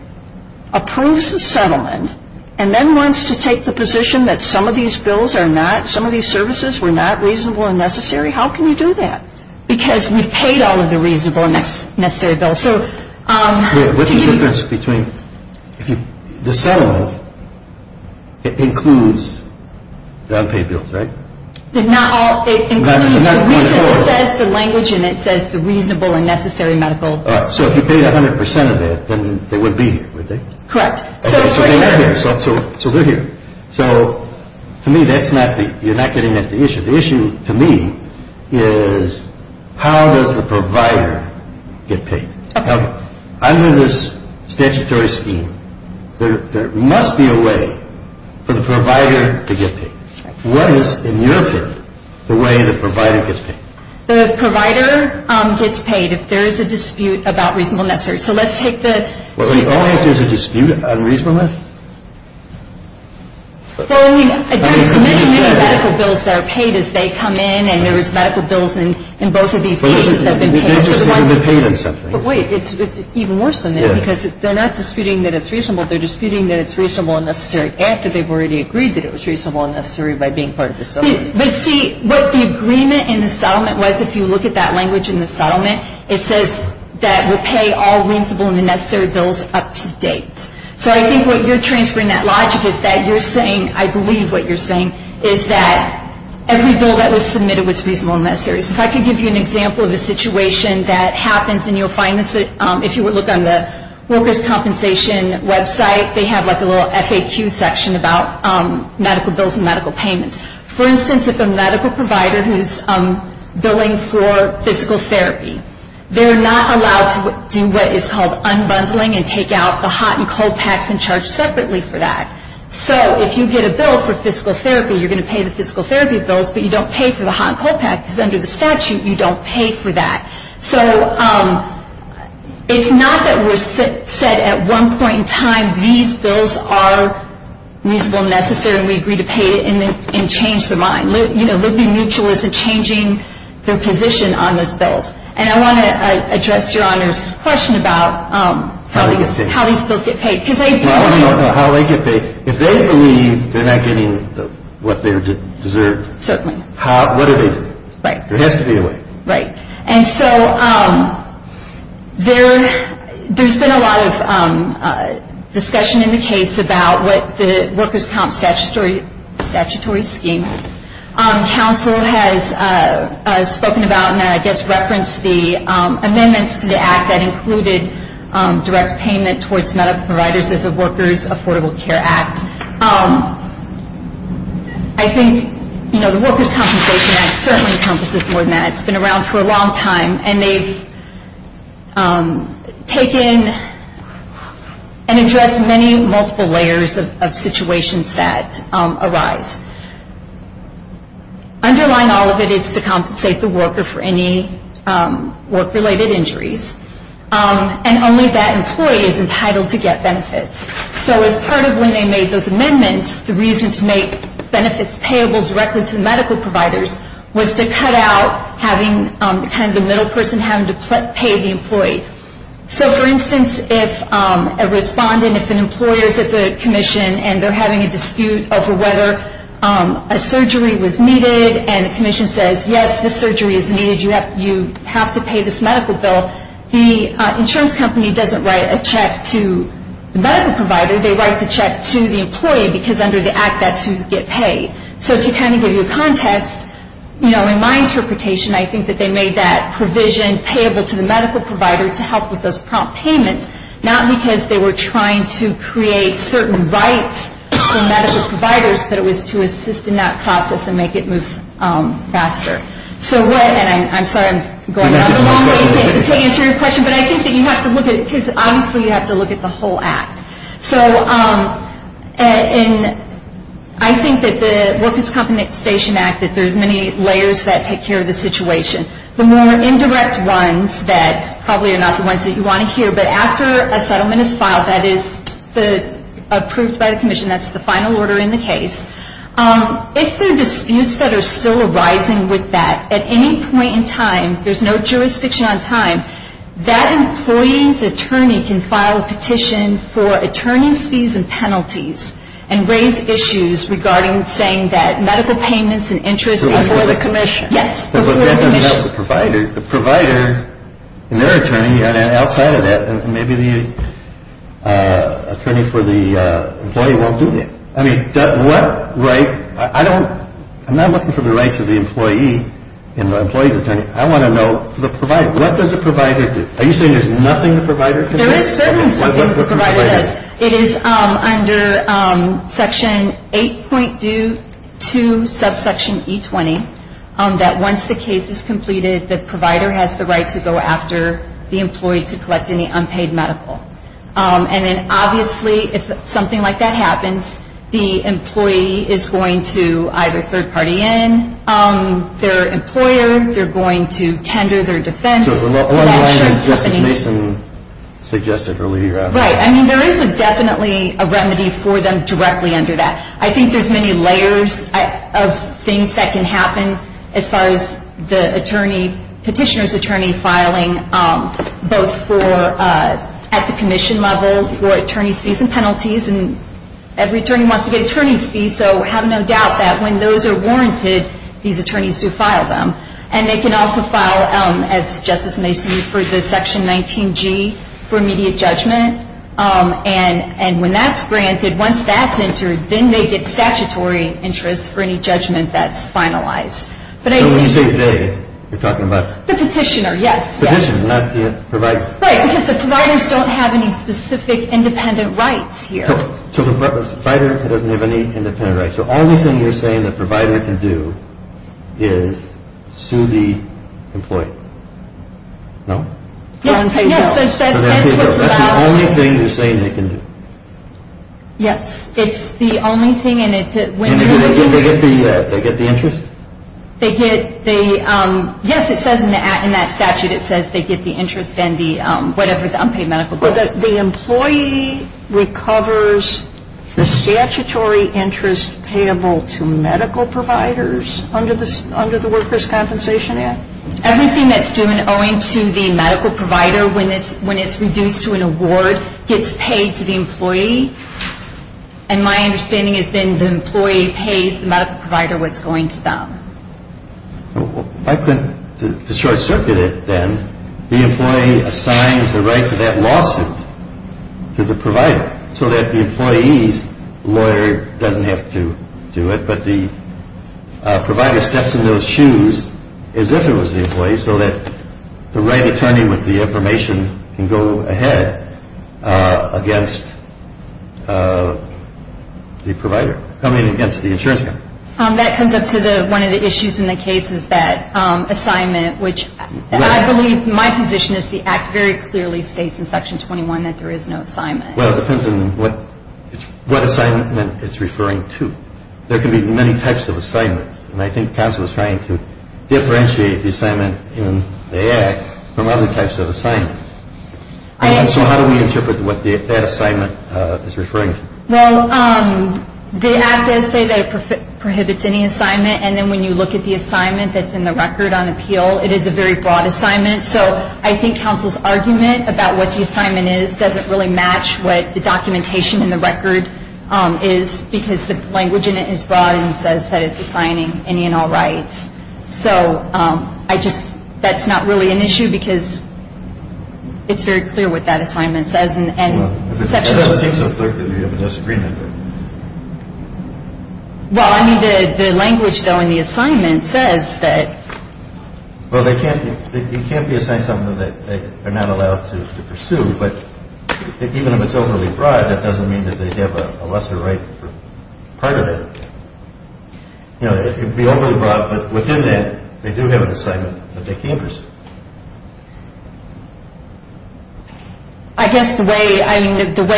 approves the settlement, and then wants to take the position that some of these bills are not, some of these services were not reasonable and necessary. How can we do that? Because we've paid all of the reasonable and necessary bills. What's the difference between, if you settle, it includes the unpaid bills, right? It includes the reason it says the language and it says the reasonable and necessary medical bills. So if you paid 100% of it, then they would be here, would they? Correct. So they're here. So to me, that's not the, you're not getting at the issue. The issue to me is how does the provider get paid? Okay. Under this statutory scheme, there must be a way for the provider to get paid. What is in your view the way the provider gets paid? The provider gets paid if there is a dispute about reasonable and necessary. So let's take the Well, there always is a dispute about reasonable and necessary. So, again, there's many, many medical bills that are paid as they come in, and there's medical bills in both of these cases. But wait, it's even worse than that because they're not disputing that it's reasonable, they're disputing that it's reasonable and necessary after they've already agreed that it was reasonable and necessary by being part of the settlement. But see, what the agreement in the settlement was, if you look at that language in the settlement, it says that we'll pay all reasonable and necessary bills up to date. So I think what you're transferring that logic is that you're saying, I believe what you're saying, is that every bill that was submitted was reasonable and necessary. If I could give you an example of a situation that happens in your financing, if you would look on the workers' compensation website, they have like a little FAQ section about medical bills and medical payments. For instance, if a medical provider who's billing for physical therapy, they're not allowed to do what is called unbundling and take out the hot and cold tax and charge separately for that. So if you get a bill for physical therapy, you're going to pay the physical therapy bills, but you don't pay for the hot and cold tax because under the statute, you don't pay for that. So it's not that we're set at one point in time, these bills are reasonable and necessary and we agree to pay it and change the mind. You know, living mutually is a changing the position on those bills. And I want to address Your Honor's question about how these bills get paid. If they believe they're not getting what they deserve, what is it? Right. There has to be a way. Right. And so there's been a lot of discussion in the case about what the workers' comp statutory scheme. Counsel has spoken about and I guess referenced the amendments to the act that included direct payment towards medical providers as a workers' affordable care act. I think, you know, the workers' compensation act certainly encompasses more than that. It's been around for a long time and they've taken and addressed many multiple layers of situations that arise. Underlying all of it is to compensate the worker for any work-related injuries and only that employee is entitled to get benefits. So as part of when they made those amendments, the reason to make benefits payable directly to medical providers was to cut out having kind of the middle person having to pay the employee. So for instance, if a responding, if an employer is at the commission and they're having a dispute over whether a surgery was needed and the commission says, yes, the surgery is needed, you have to pay this medical bill, the insurance company doesn't write a check to the medical provider, they write the check to the employee because under the act that's who gets paid. So to kind of give you context, you know, in my interpretation, I think that they made that provision payable to the medical provider to help with those prompt payments, not because they were trying to create certain rights for medical providers, but it was to assist in that process and make it move faster. So go ahead. I'm sorry I'm going on for a long time. I can't answer your question, but I think that you have to look at it because obviously you have to look at the whole act. So I think that the Workplace Compensation Act, that there's many layers that take care of the situation. The more indirect ones that probably are not the ones that you want to hear, but after a settlement is filed, that is approved by the commission, that's the final order in the case, if there are disputes that are still arising with that, at any point in time, there's no jurisdiction on time, that employee's attorney can file a petition for attorney's fees and penalties and raise issues regarding saying that medical payments and interest are under the commission. Yes. The provider and their attorney outside of that, and maybe the attorney for the employee won't do that. I mean, what right? I'm not looking for the right to the employee and the employee's attorney. I want to know the provider. What does the provider do? Are you saying there's nothing the provider can do? There is certainly something the provider does. It is under Section 8.2, subsection E20, that once the case is completed, the provider has the right to go after the employee to collect any unpaid medical. And then obviously, if something like that happens, the employee is going to either third party in their employer, they're going to tender their defense. Just as Mason suggested earlier. Right. I mean, there is definitely a remedy for them directly under that. I think there's many layers of things that can happen as far as the petitioner's attorney filing, both at the commission level for attorney's fees and penalties, and every attorney wants to get attorney's fees, so have no doubt that when those are warranted, these attorneys do file them. And they can also file, as Justice Mason referred to, Section 19G for immediate judgment. And when that's granted, once that's entered, then they get statutory interest for any judgment that's finalized. So what you say today, you're talking about? The petitioner, yes. Petitioner, not the provider. Right, because the providers don't have any specific independent rights here. So the provider doesn't have any independent rights. So all the things you're saying the provider can do is sue the employee. No? Yes. That's the only thing you're saying they can do. Yes. It's the only thing, and it's when they get the interest. Yes, it says in that statute, it says they get the interest and the whatever, the unpaid medical bill. The employee recovers the statutory interest payable to medical providers under the Workers' Compensation Act? Everything that's due and owing to the medical provider when it's reduced to an award gets paid to the employee. And my understanding has been the employee pays the medical provider what's going to them. To short-circuit it then, the employee assigns the right to that lawsuit to the provider so that the employee's lawyer doesn't have to do it, but the provider steps in those shoes as if it was the employee so that the right attorney with the information can go ahead against the provider coming against the insurance company. That comes up to one of the issues in the case of that assignment, which I believe my position is the Act very clearly states in Section 21 that there is no assignment. Well, it depends on what assignment it's referring to. There can be many types of assignments, and I think counsel is trying to differentiate the assignment in the Act from other types of assignments. So how do we interpret what that assignment is referring to? Well, the Act does say that it prohibits any assignment, and then when you look at the assignment that's in the record on appeal, it is a very broad assignment. So I think counsel's argument about what the assignment is doesn't really match what the documentation in the record is because the language in it is broad and says that it's defining any and all rights. So that's not really an issue because it's very clear what that assignment says. It just takes a third degree of disagreement. Well, I mean the language though in the assignment says that... Well, they can't be assigned something that they're not allowed to pursue, but even if it's overly broad, that doesn't mean that they have a lesser right to part of it. You know, it can be overly broad, but within that, they do have an assignment that they can pursue. I guess the way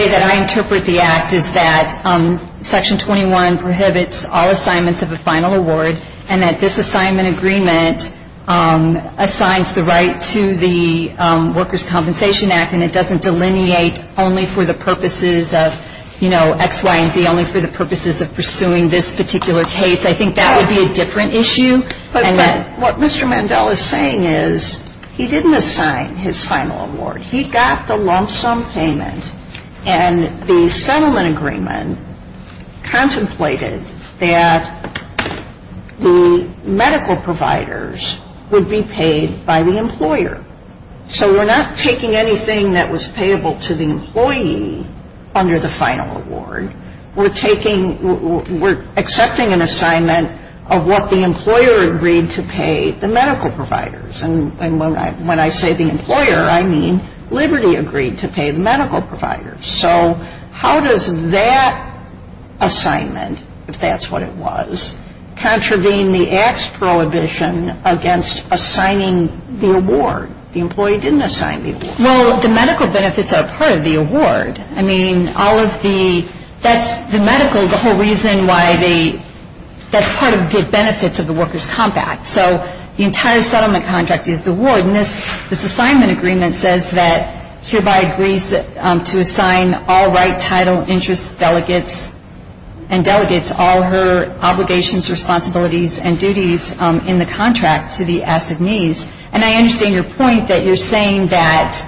that I interpret the Act is that Section 21 prohibits all assignments of a final award and that this assignment agreement assigns the right to the Workers' Compensation Act and it doesn't delineate only for the purposes of, you know, X, Y, and Z, only for the purposes of pursuing this particular case. I think that would be a different issue. But what Mr. Mandel is saying is he didn't assign his final award. He got the lump sum payment and the settlement agreement contemplated that the medical providers would be paid by the employer. So we're not taking anything that was payable to the employee under the final award. We're accepting an assignment of what the employer agreed to pay the medical providers. And when I say the employer, I mean Liberty agreed to pay medical providers. So how does that assignment, if that's what it was, contravene the Act's prohibition against assigning the award? The employee didn't assign the award. Well, the medical benefits are part of the award. I mean, all of the, that's the medical, the whole reason why the, that's part of the benefits of the Workers' Compact. So the entire settlement contract is the award. And this assignment agreement says that hereby agrees to assign all right, title, interest, delegates, and delegates all her obligations, responsibilities, and duties in the contract to the assignees. And I understand your point that you're saying that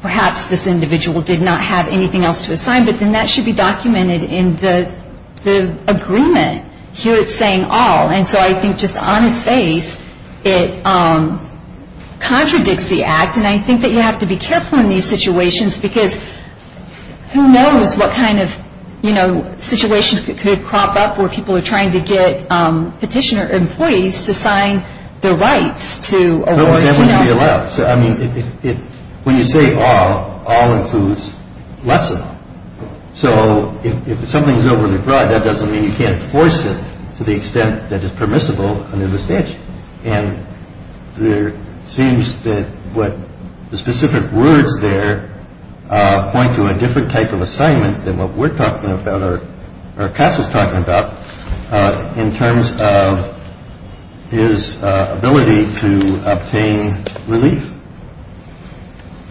perhaps this individual did not have anything else to assign, but then that should be documented in the agreement. Here it's saying all. And so I think just on its face, it contradicts the Act. And I think that you have to be careful in these situations because who knows what kind of, you know, Nobody has to be allowed. I mean, when you say all, all includes less than all. So if something's over the grudge, that doesn't mean you can't force it to the extent that it's permissible under the statute. And there seems that what the specific words there point to a different type of assignment than what we're talking about or Cass was talking about in terms of his ability to obtain relief.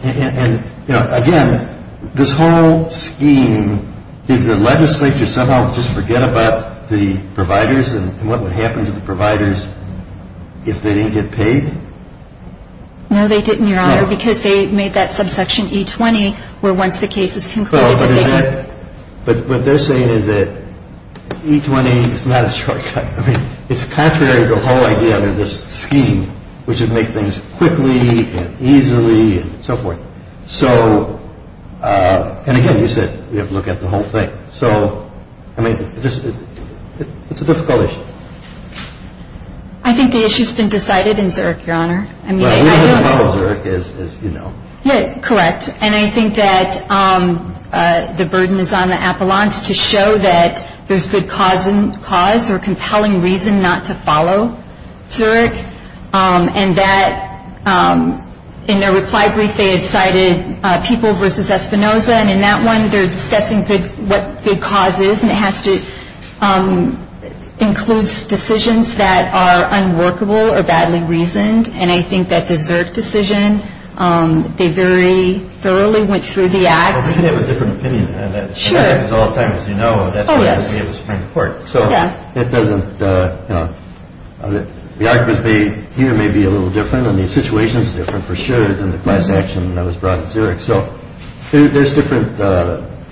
And, you know, again, this whole scheme, did the legislature somehow just forget about the providers and what would happen to the providers if they didn't get paid? No, they did not. Because they made that subsection E20 where once the case is concluded. But they're saying that E20 is not a shortcut. I mean, it's contrary to the whole idea of this scheme, which would make things quickly and easily and so forth. So, and again, you said you have to look at the whole thing. So, I mean, it's a difficult issue. I think the issue's been decided in Zurich, Your Honor. We don't know what Zurich is, as you know. Yeah, correct. And I think that the burden is on the appellants to show that there's good cause or compelling reason not to follow Zurich. And that in their reply brief they had cited people versus Espinoza. And in that one they're discussing what good cause is. And it has to include decisions that are unworkable or badly reasoned. And I think that their decision, they very thoroughly went through the act. I think they have a different opinion on that. Sure. It happens all the time, as you know. Oh, yes. That's why we have a Supreme Court. So, it doesn't, you know, the arguments they hear may be a little different. And the situation's different for sure than the class action that was brought in Zurich. So, there's different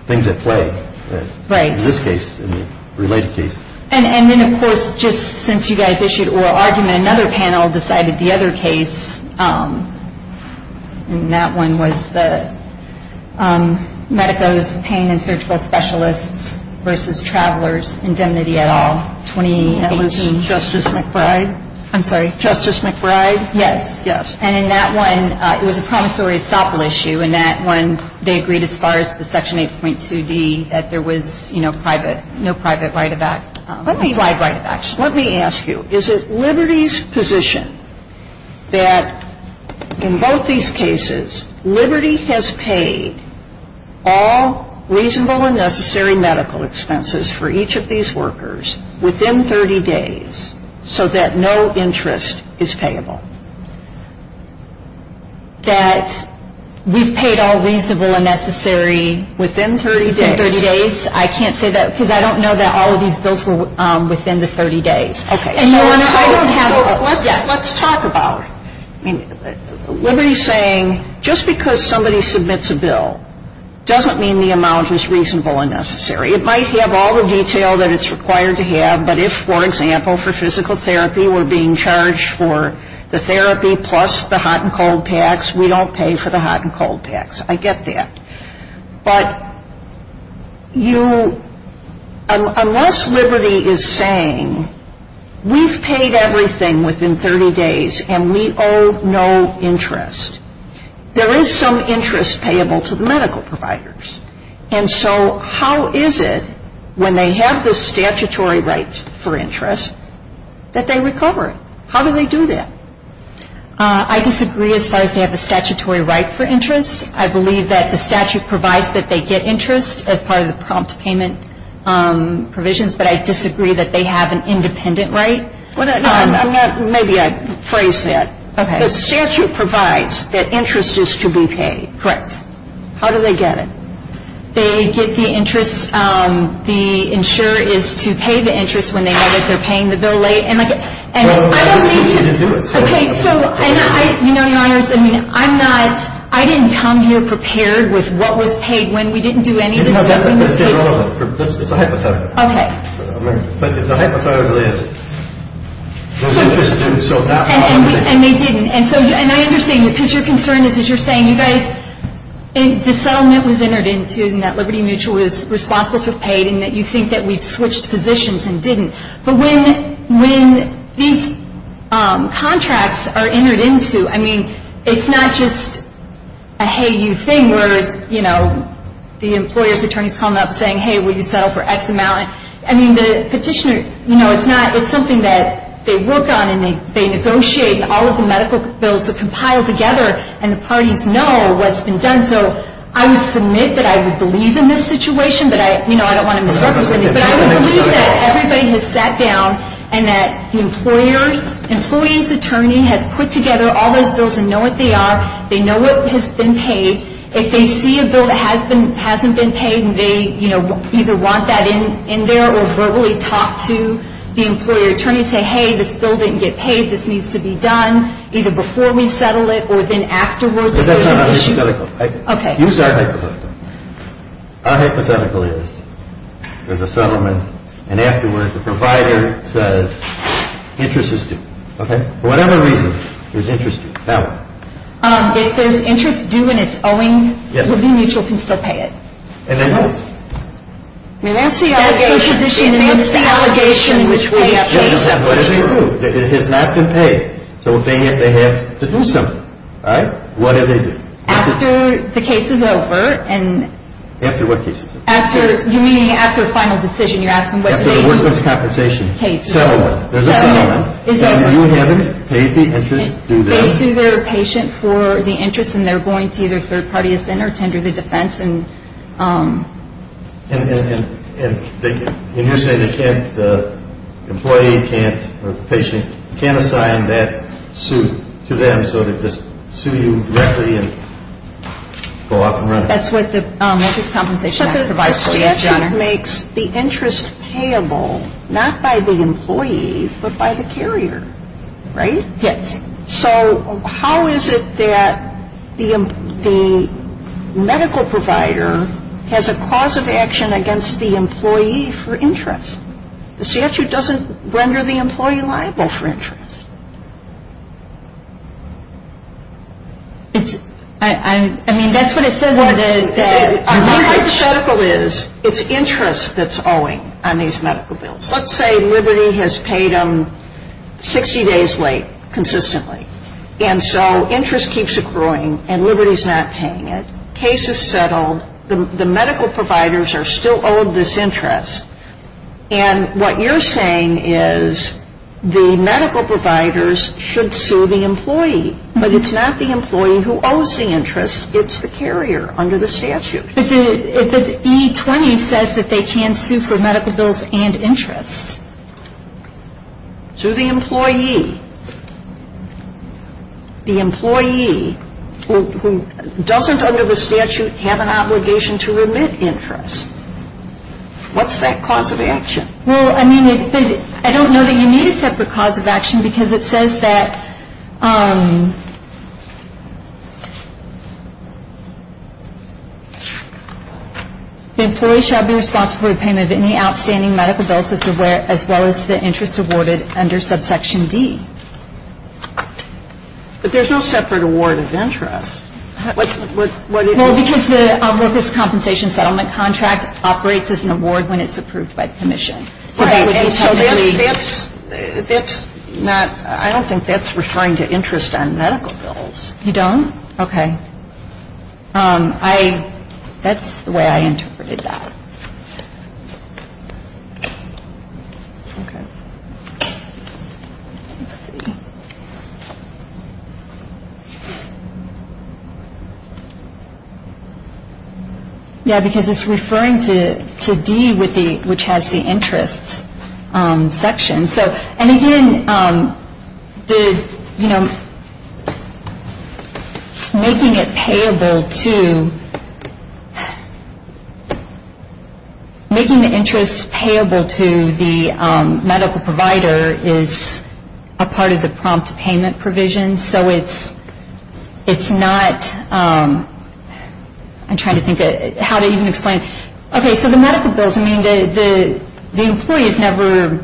things at play in this case and related cases. And then, of course, just since you guys issued oral argument, another panel decided the other case, and that one was the Medicos Pain and Surgical Specialists versus Travelers Indemnity et al., 2018. Justice McBride? I'm sorry. Justice McBride? Yes, yes. And in that one, it was a promissory estoppel issue. In that one, they agreed as far as the Section 8.2b that there was, you know, private, no private write-backs. Let me ask you, is it Liberty's position that in both these cases, Liberty has paid all reasonable and necessary medical expenses for each of these workers within 30 days so that no interest is payable? That we've paid all reasonable and necessary within 30 days? I can't say that because I don't know that all of these both were within the 30 days. Okay. Let's talk about it. Liberty's saying just because somebody submits a bill doesn't mean the amount is reasonable and necessary. It might have all the detail that it's required to have, but if, for example, for physical therapy, we're being charged for the therapy plus the hot and cold tax, we don't pay for the hot and cold tax. I get that. But unless Liberty is saying we've paid everything within 30 days and we owe no interest, there is some interest payable to the medical providers. And so how is it when they have the statutory rights for interest that they recover? How do they do that? I disagree as far as they have a statutory right for interest. I believe that the statute provides that they get interest as part of the prompt payment provisions, but I disagree that they have an independent right. Maybe I phrased that. The statute provides that interest is to be paid. Correct. How do they get it? They get the interest. The insurer is to pay the interest when they know that they're paying the bill late. And I don't believe you can do it. Okay. So, you know, I didn't come here prepared with what was paid when we didn't do anything. It's a hypothetical. Okay. But it's a hypothetical, is it? And they didn't. And so I understand, because your concern is you're saying you guys, the settlement was entered into and that Liberty Mutual was responsible for paying and that you think that we switched positions and didn't. But when these contracts are entered into, I mean, it's not just a hey you thing where, you know, the employer returns a comment saying, hey, will you settle for X amount. I mean, the petitioner, you know, it's not, it's something that they work on and they negotiate all of the medical bills to compile together and the parties know what's been done. So I would submit that I would believe in this situation, but, you know, I don't want to misrepresent it, but I would believe that everybody has sat down and that the employer's attorney has put together all those bills and know what they are. They know what has been paid. If they see a bill that hasn't been paid and they, you know, either want that in there or verbally talk to the employer attorney and say, hey, this bill didn't get paid. This needs to be done either before we settle it or then afterwards. Okay. Use our hypothetical. Our hypothetical is there's a settlement and afterwards the provider says interest is due. Okay. Whatever interest is due, that one. If there's interest due and it's owing, Liberty Mutual can still pay it. And then what? I mean, that's the allegation. That's the allegation. That's the allegation. It is not to pay. So they have to do something. All right? What is it? After the case is over and... After what case is it? After, you mean after a final decision. You're asking what the case is. Yeah, so what's the compensation? Okay. So there's a settlement. So you and him paid the interest. They pay their patient for the interest and they're going to either third party And you're saying they can't, the employee can't, or the patient can't assign that suit to them so they'll just sue you directly and go out the room. That's what the compensation is. So that makes the interest payable not by the employee but by the carrier. Right? Yes. Okay. So how is it that the medical provider has a cause of action against the employee for interest? The CSU doesn't render the employee liable for interest. I mean, that's what I said. The problem is it's interest that's owing on these medical bills. Let's say Liberty has paid them 60 days late consistently. And so interest keeps accruing and Liberty's not paying it. Case is settled. The medical providers are still owed this interest. And what you're saying is the medical providers should sue the employee. But it's not the employee who owes the interest. It's the carrier under the statute. But the E-20 says that they can sue for medical bills and interest. Sue the employee. The employee who doesn't under the statute have an obligation to remit interest. What's that cause of action? Well, I mean, I don't know that you need a separate cause of action because it says that the employee shall be responsible for the payment of any outstanding medical bills as well as the interest awarded under subsection D. But there's no separate award of interest. Well, because the workers' compensation settlement contract operates as an award when it's approved by commission. Right. I don't think that's referring to interest on medical bills. You don't? Okay. That's the way I interpreted that. Yeah, because it's referring to D, which has the interest section. And again, making the interest payable to the medical provider is a part of the prompt payment provision. And so it's not, I'm trying to think how to even explain. Okay, so the medical bills, I mean, the employee is never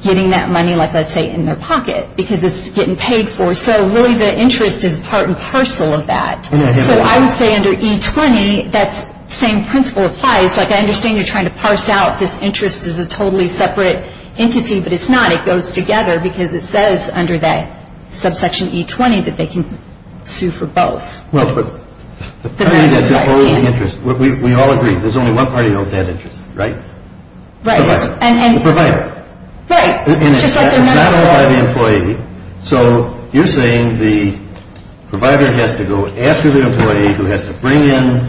getting that money, like I say, in their pocket because it's getting paid for. So really the interest is part and parcel of that. So I would say under E-20 that same principle applies. Like I understand you're trying to parse out this interest as a totally separate entity, but it's not. It goes together because it says under that subsection E-20 that they can sue for both. Well, but we all agree there's only one party that has interest, right? Right. The provider. Right. So you're saying the provider has to go after the employee who has to bring in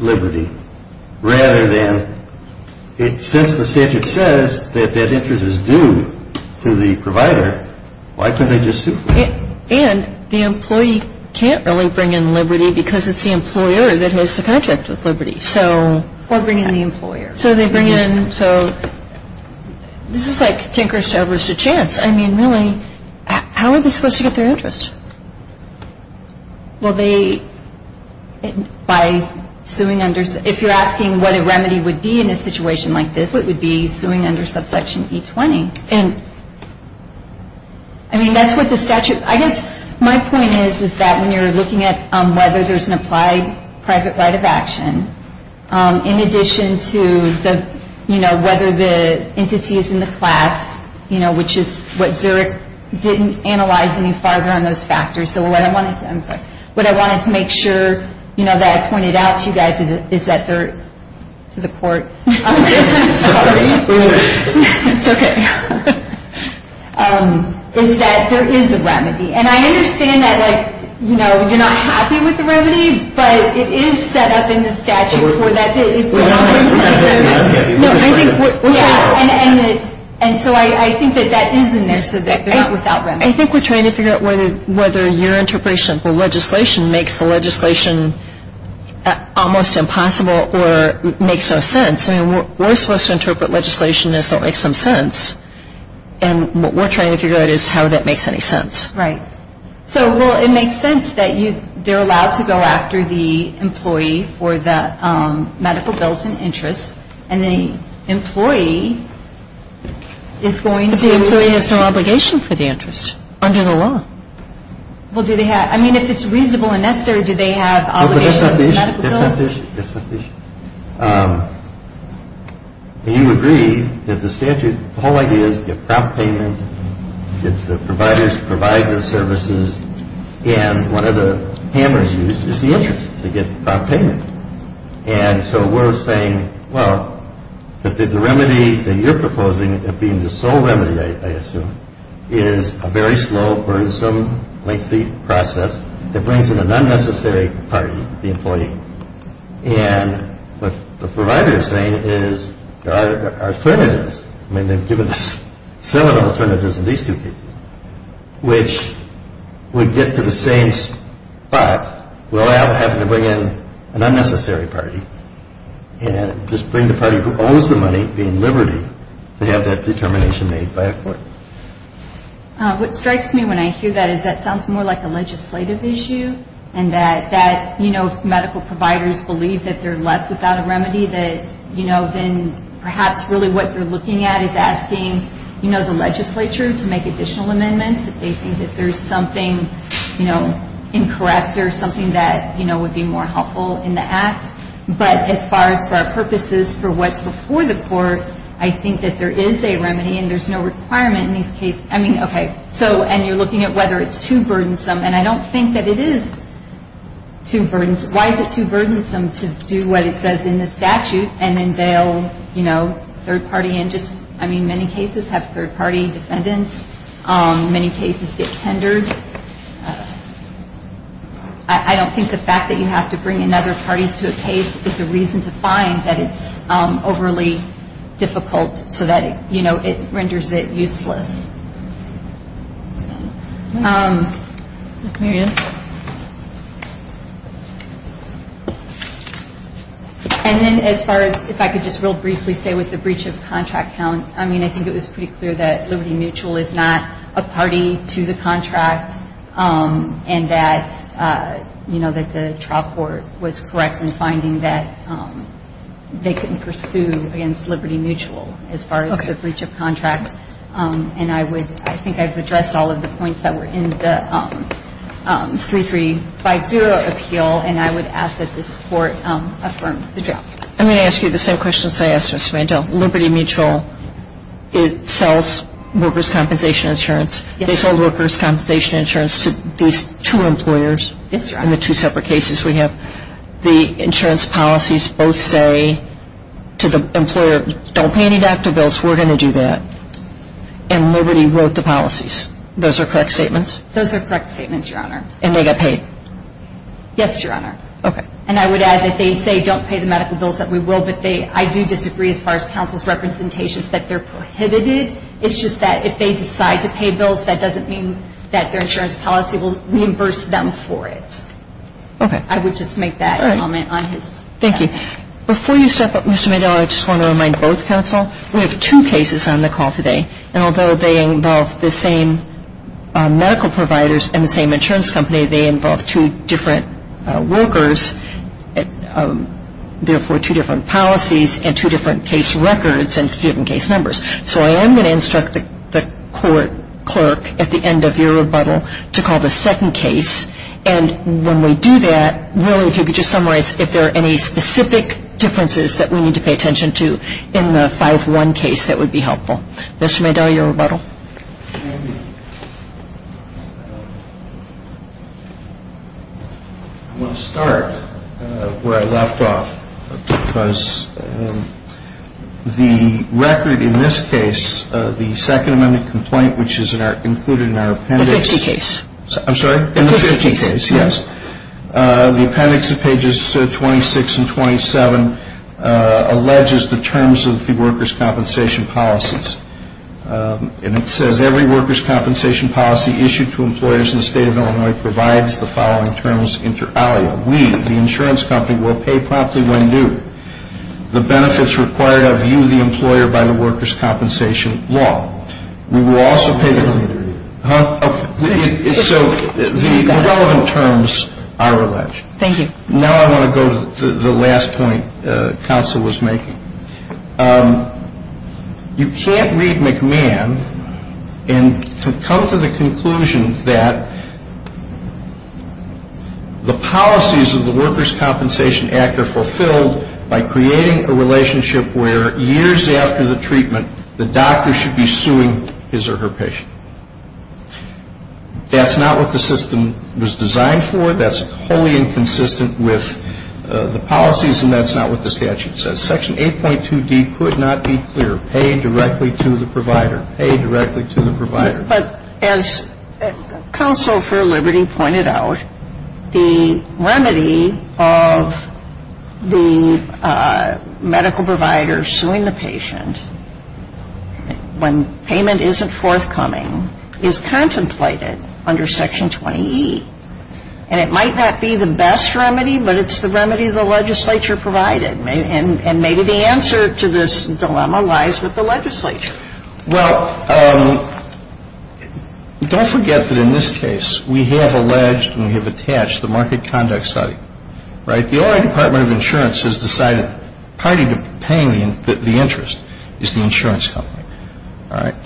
liberty, rather than, since the statute says that that interest is due to the provider, why couldn't they just sue? And the employee can't really bring in liberty because it's the employer that has the conscience of liberty. Or bring in the employer. So they bring in, so this is like Tinker's Chevreuse to Chance. I mean, really, how are they supposed to get their interest? Well, they, by suing under, if you're asking what a remedy would be in a situation like this, it would be suing under subsection E-20. And I mean, that's what the statute, I guess my point is is that when you're looking at whether there's an applied private right of action, in addition to the, you know, whether the entity is in the class, you know, which is what Zurich didn't analyze any farther on those factors. So what I wanted to make sure, you know, that I pointed out to you guys is that there is a remedy. And I understand that, like, you know, you're not happy with the remedy, but it is set up in the statute. I think we're trying to figure out whether your interpretation of the legislation makes the legislation almost impossible or makes no sense. I mean, we're supposed to interpret legislation as though it makes some sense. And what we're trying to figure out is how that makes any sense. Right. So, well, it makes sense that they're allowed to go after the employee for the medical bills and interest, and the employee is going to have some obligation for the interest under the law. Well, do they have, I mean, if it's reasonable and necessary, do they have obligation? That's not the issue. That's not the issue. That's not the issue. And you agree that the statute, the whole idea is to get prop payments, get the providers to provide those services, and one of the hammers used is the interest to get prop payments. And so we're saying, well, that the remedy that you're proposing of being the sole remedy, I assume, is a very slow, burdensome, lengthy process that brings in an unnecessary party, the employee. And the provider is saying is there are alternatives. I mean, they've given us several alternatives in these two cases, which would get to the same spot without having to bring in an unnecessary party, and just bring the party who owes the money in liberty to have that determination made by a court. What strikes me when I hear that is that sounds more like a legislative issue, and that medical providers believe that they're left without a remedy, that then perhaps really what they're looking at is asking the legislature to make additional amendments if they think that there's something incorrect or something that would be more helpful in the act. But as far as our purposes for what's before the court, I think that there is a remedy, and there's no requirement in these cases. I mean, okay. So, and you're looking at whether it's too burdensome, and I don't think that it is too burdensome. Why is it too burdensome to do what it says in the statute, and then they'll, you know, third-party, and just, I mean, many cases have third-party defendants. Many cases get tendered. I don't think the fact that you have to bring another party to a case is a reason to find that it's overly difficult so that, you know, it renders it useless. And then as far as if I could just real briefly say with the breach of contract, I mean, I think it was pretty clear that Liberty Mutual is not a party to the contract, and that, you know, that the trial court was correct in finding that they couldn't pursue against Liberty Mutual as far as the breach of contract. And I think I've addressed all of the points that were in the 3350 appeal, and I would ask that this court affirm the draft. I'm going to ask you the same questions I asked Ms. Randall. Liberty Mutual, it sells workers' compensation insurance. They sold workers' compensation insurance to these two employers in the two separate cases we have. The insurance policies both say to the employer, don't pay any doctor bills, we're going to do that, and Liberty wrote the policies. Those are correct statements? Those are correct statements, Your Honor. And they got paid? Yes, Your Honor. Okay. And I would add that they say, don't pay the medical bills, that we will, but I do disagree as far as counsel's representation that they're prohibited. It's just that if they decide to pay bills, that doesn't mean that their insurance policy will reimburse them for it. Okay. I would just make that comment on his behalf. Thank you. Before you step up, Mr. McDowell, I just want to remind both counsel, we have two cases on the call today, and although they involve the same medical providers and the same insurance company, they involve two different workers, therefore two different policies and two different case records and student case numbers. So I am going to instruct the clerk at the end of your rebuttal to call the second case, and when we do that, really to just summarize, if there are any specific differences that we need to pay attention to in the 5-1 case that would be helpful. Mr. McDowell, your rebuttal. Thank you. I'm going to start where I left off, because the record in this case, the second amendment complaint, which is included in our appendix. The 50 case. I'm sorry? The 50 case. The appendix of pages 26 and 27 alleges the terms of the workers' compensation policies. And it says, every workers' compensation policy issued to employers in the state of Illinois provides the following terms. We, the insurance company, will pay promptly when due. The benefits required are due to the employer by the workers' compensation law. We will also pay the levy. So the relevant terms are alleged. Thank you. Now I'm going to go to the last point counsel was making. You can't read McMahon and come to the conclusion that the policies of the workers' compensation act are fulfilled by creating a relationship where years after the treatment, the doctor should be suing his or her patient. That's not what the system was designed for. That's wholly inconsistent with the policies, and that's not what the statute says. Section 8.2D could not be clearer. Pay directly to the provider. Pay directly to the provider. But as counsel for liberty pointed out, the remedy of the medical provider suing the patient when payment isn't forthcoming is contemplated under section 28. And it might not be the best remedy, but it's the remedy the legislature provided. And maybe the answer to this dilemma lies with the legislature. Well, don't forget that in this case, we have alleged and we have attached the market conduct study. The Oregon Department of Insurance has decided that the interest is the insurance company.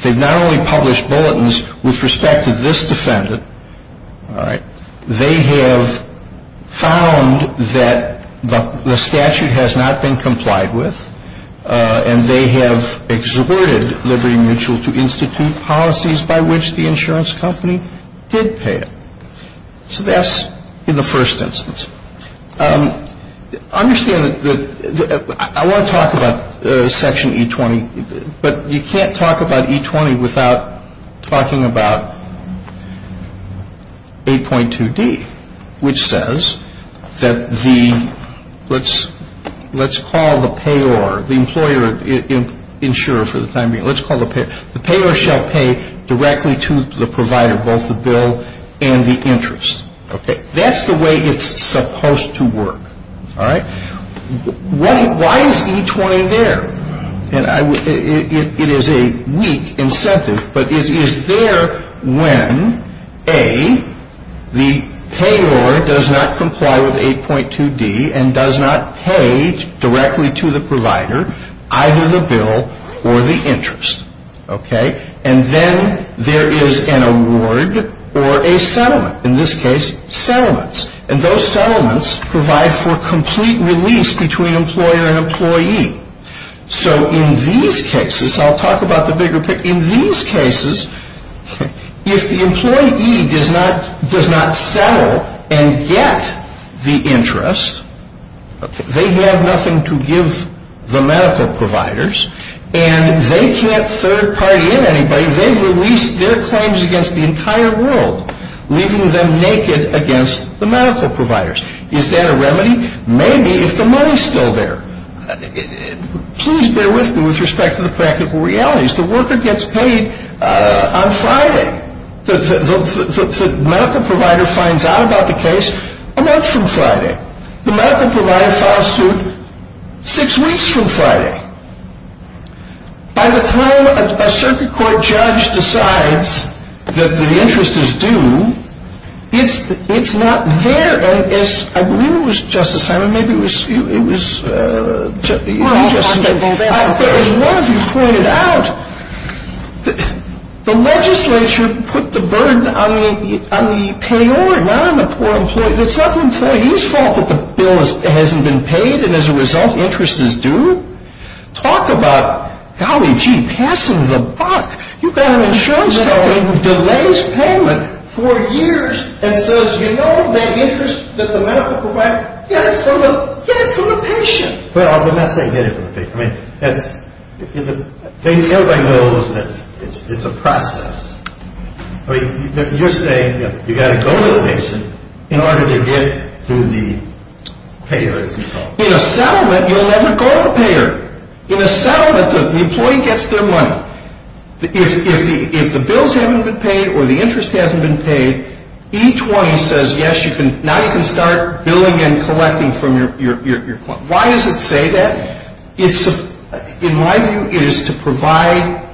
They've not only published bulletins with respect to this defendant. They have found that the statute has not been complied with, and they have exhorted Liberty Mutual to institute policies by which the insurance company did pay it. So that's in the first instance. Understand that I want to talk about section E-20, but you can't talk about E-20 without talking about 8.2D, which says that the let's call the payer, the employer, insurer for the time being. Let's call the payer. The payer shall pay directly to the provider, both the bill and the interest. That's the way it's supposed to work. Why is E-20 there? It is a weak incentive, but it is there when, A, the payer does not comply with 8.2D and does not pay directly to the provider, either the bill or the interest. And then there is an award or a settlement. In this case, settlements. And those settlements provide for complete release between employer and employee. So in these cases, I'll talk about the bigger picture. In these cases, if the employee does not settle and get the interest, they have nothing to give the medical providers, and they can't third-party in anybody. They release their claims against the entire world, leaving them naked against the medical providers. Is that a remedy? Maybe, if the money is still there. Please bear with me with respect to the practical realities. The worker gets paid on Friday. The medical provider finds out about the case a month from Friday. The medical provider found out six weeks from Friday. By the throw of a circuit court judge decides that the interest is due, it's not there. I believe it was Justice Henry. Maybe it was you, Justice. But as one of you pointed out, the legislature put the burden on the payor, not on the poor employee. If it's not the employee's fault that the bill hasn't been paid and as a result interest is due, talk about, golly gee, passing the buck. You've got an insurance company that delays payment for years and says, you know the interest that the medical provider gets, so get it from the patient. Well, I'm not saying get it from the patient. The thing that everybody knows is that it's a process. You're saying you've got to go to the patient in order to get to the payor. In a settlement, you'll never go to the payor. In a settlement, the employee gets their money. If the bill hasn't been paid or the interest hasn't been paid, each one says, yes, now you can start billing and collecting from your client. Why does it say that? In my view, it is to provide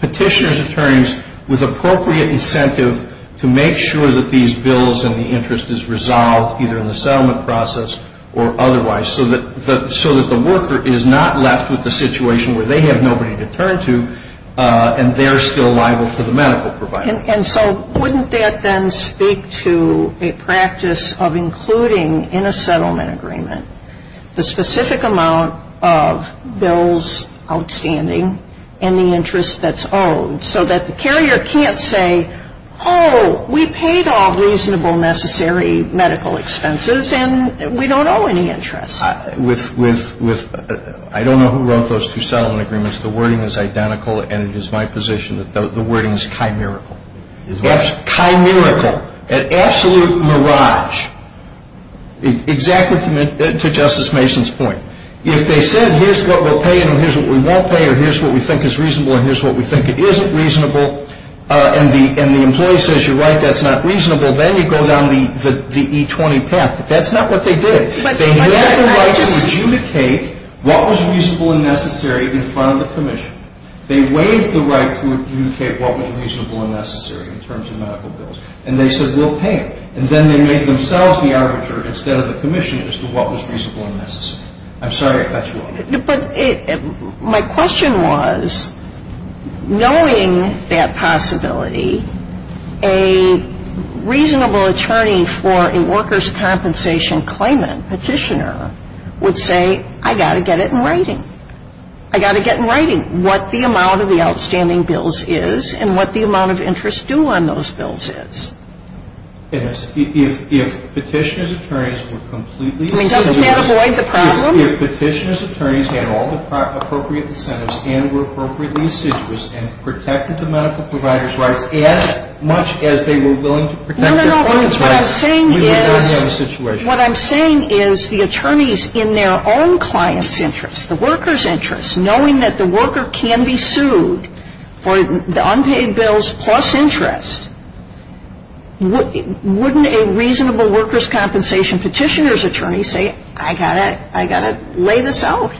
petitioner's attorneys with appropriate incentive to make sure that these bills and the interest is resolved, either in the settlement process or otherwise, so that the worker is not left with a situation where they have nobody to turn to and they're still liable to the medical provider. And so wouldn't that then speak to a practice of including in a settlement agreement the specific amount of bills outstanding and the interest that's owed, so that the carrier can't say, oh, we paid off reasonable necessary medical expenses and we don't owe any interest. I don't know who wrote those two settlement agreements. The wording is identical, and it is my position that the wording is chimerical. That's chimerical, an absolute mirage. Exactly to Justice Mason's point. If they said, here's what we'll pay and here's what we won't pay or here's what we think is reasonable and here's what we think isn't reasonable, and the employee says, you're right, that's not reasonable, then you go down the E-20 path, but that's not what they did. They had the right to adjudicate what was reasonable and necessary in front of the permission. They waived the right to adjudicate what was reasonable and necessary in terms of medical bills, and they said, we'll pay it. And then they made themselves the arbitrator instead of the commissioner as to what was reasonable and necessary. I'm sorry if that's wrong. But my question was, knowing that possibility, a reasonable attorney for a workers' compensation claimant, petitioner, would say, I've got to get it in writing. I've got to get in writing what the amount of the outstanding bills is and what the amount of interest due on those bills is. Yes. If petitioner's attorneys were completely assiduous. I mean, you can't avoid the problem. If petitioner's attorneys had all the appropriate incentives and were appropriately assiduous and protected the medical provider's rights as much as they were willing to protect their client's rights. No, no, no. What I'm saying is the attorneys in their own client's interest, the worker's interest, knowing that the worker can be sued for the unpaid bills plus interest, wouldn't a reasonable workers' compensation petitioner's attorney say, I've got to lay this out?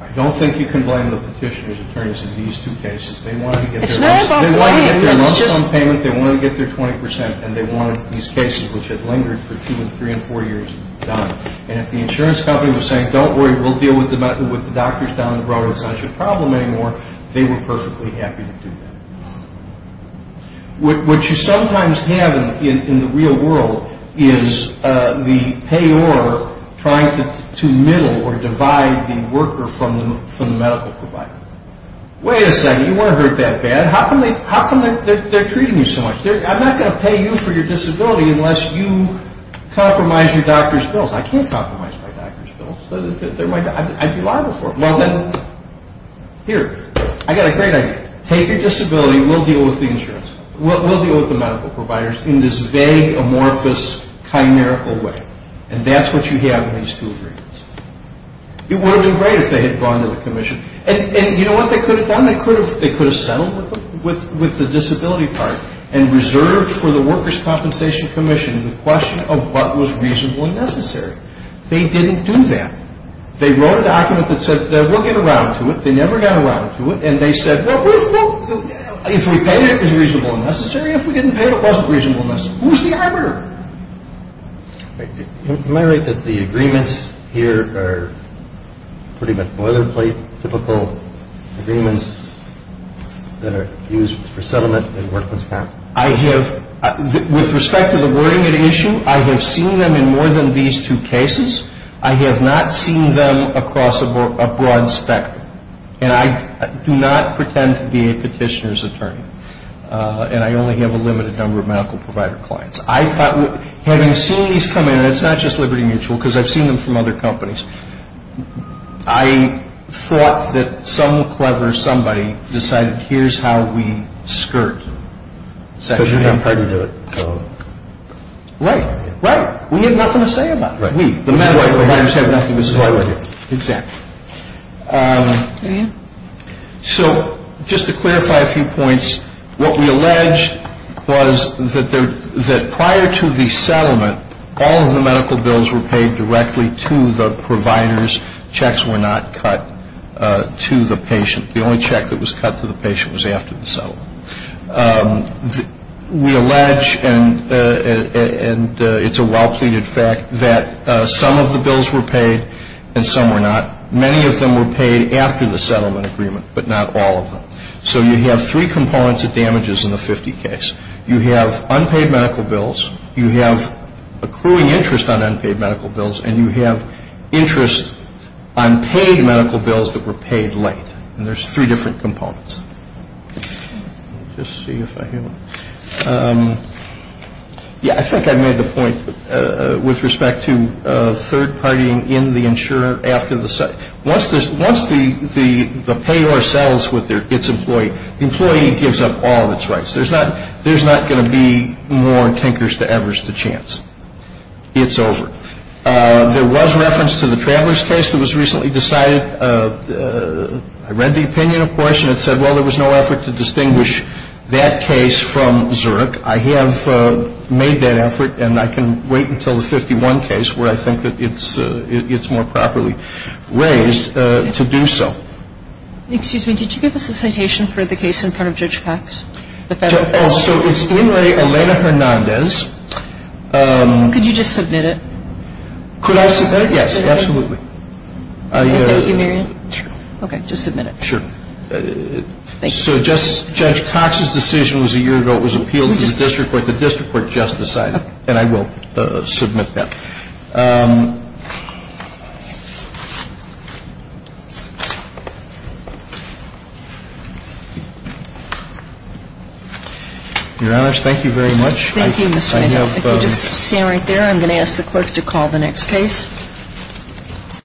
I don't think you can blame the petitioner's attorneys in these two cases. They wanted to get their months on payment, they wanted to get their 20%, and they wanted these cases, which had lingered for two and three and four years, done. And if the insurance company was saying, don't worry, we'll deal with the doctors down the road, it's not your problem anymore, they were perfectly happy to do that. What you sometimes have in the real world is the payor trying to middle or divide the worker from the medical provider. Wait a second, you weren't hurt that bad. How come they're treating you so much? I'm not going to pay you for your disability unless you compromise your doctor's bills. I can't compromise my doctor's bills. I'd be liable for it. Here, I've got a great idea. Pay for your disability and we'll deal with the insurance company. We'll deal with the medical providers in this vague, amorphous, chimerical way. And that's what you have in these two agreements. It would have been great if they had gone to the commission. And you know what they could have done? They could have settled with the disability part and reserved for the workers' compensation commission in the question of what was reasonable and necessary. They didn't do that. They wrote a document that said, we'll get around to it. They never got around to it. And they said, if we think it's reasonable and necessary, if we didn't think it was reasonable and necessary, who's the arbiter? Can you comment that the agreements here are pretty much boilerplate, typical agreements that are used for settlement and workman's compensation? With respect to the wording of the issue, I have seen them in more than these two cases. I have not seen them across a broad spectrum. And I do not pretend to be a petitioner's attorney. And I only have a limited number of medical provider clients. Having seen these come in, and it's not just Liberty Mutual, because I've seen them from other companies, I thought that some clever somebody decided, here's how we skirt. Because you haven't heard of it. Right. Right. We need nothing to say about it. The medical provider said nothing was wrong with it. So, just to clarify a few points, what we allege was that prior to the settlement, all of the medical bills were paid directly to the providers. Checks were not cut to the patient. The only check that was cut to the patient was after the settlement. We allege, and it's a well-pleaded fact, that some of the bills were paid and some were not. Many of them were paid after the settlement agreement, but not all of them. So, you have three components of damages in the 50 case. You have unpaid medical bills. You have accruing interest on unpaid medical bills. And you have interest on paid medical bills that were paid late. And there's three different components. Yeah, I think I made the point with respect to third-partying in the insurer after the settlement. Once the payor settles with its employee, the employee gives up all of its rights. There's not going to be more tinkers-to-evers-to-chance. It's over. There was reference to the Travers case that was recently decided. I read the opinion, of course, and it said, well, there was no effort to distinguish that case from Zurich. I have made that effort, and I can wait until the 51 case, where I think it's more properly raised, to do so. Excuse me, did you give us a citation for the case in front of Judge Cox? Oh, so it's preliminary. Elena Hernandez. Could you just submit it? Could I submit it? Yes, absolutely. Thank you, Marion. Okay, just submit it. So, Judge Cox's decision was a year ago. It was appealed to the district court. The district court just decided. And I will submit that. Your Honor, thank you very much. Thank you, Mr. Hanna. I'm going to stand right there. I'm going to ask the clerk to call the next case.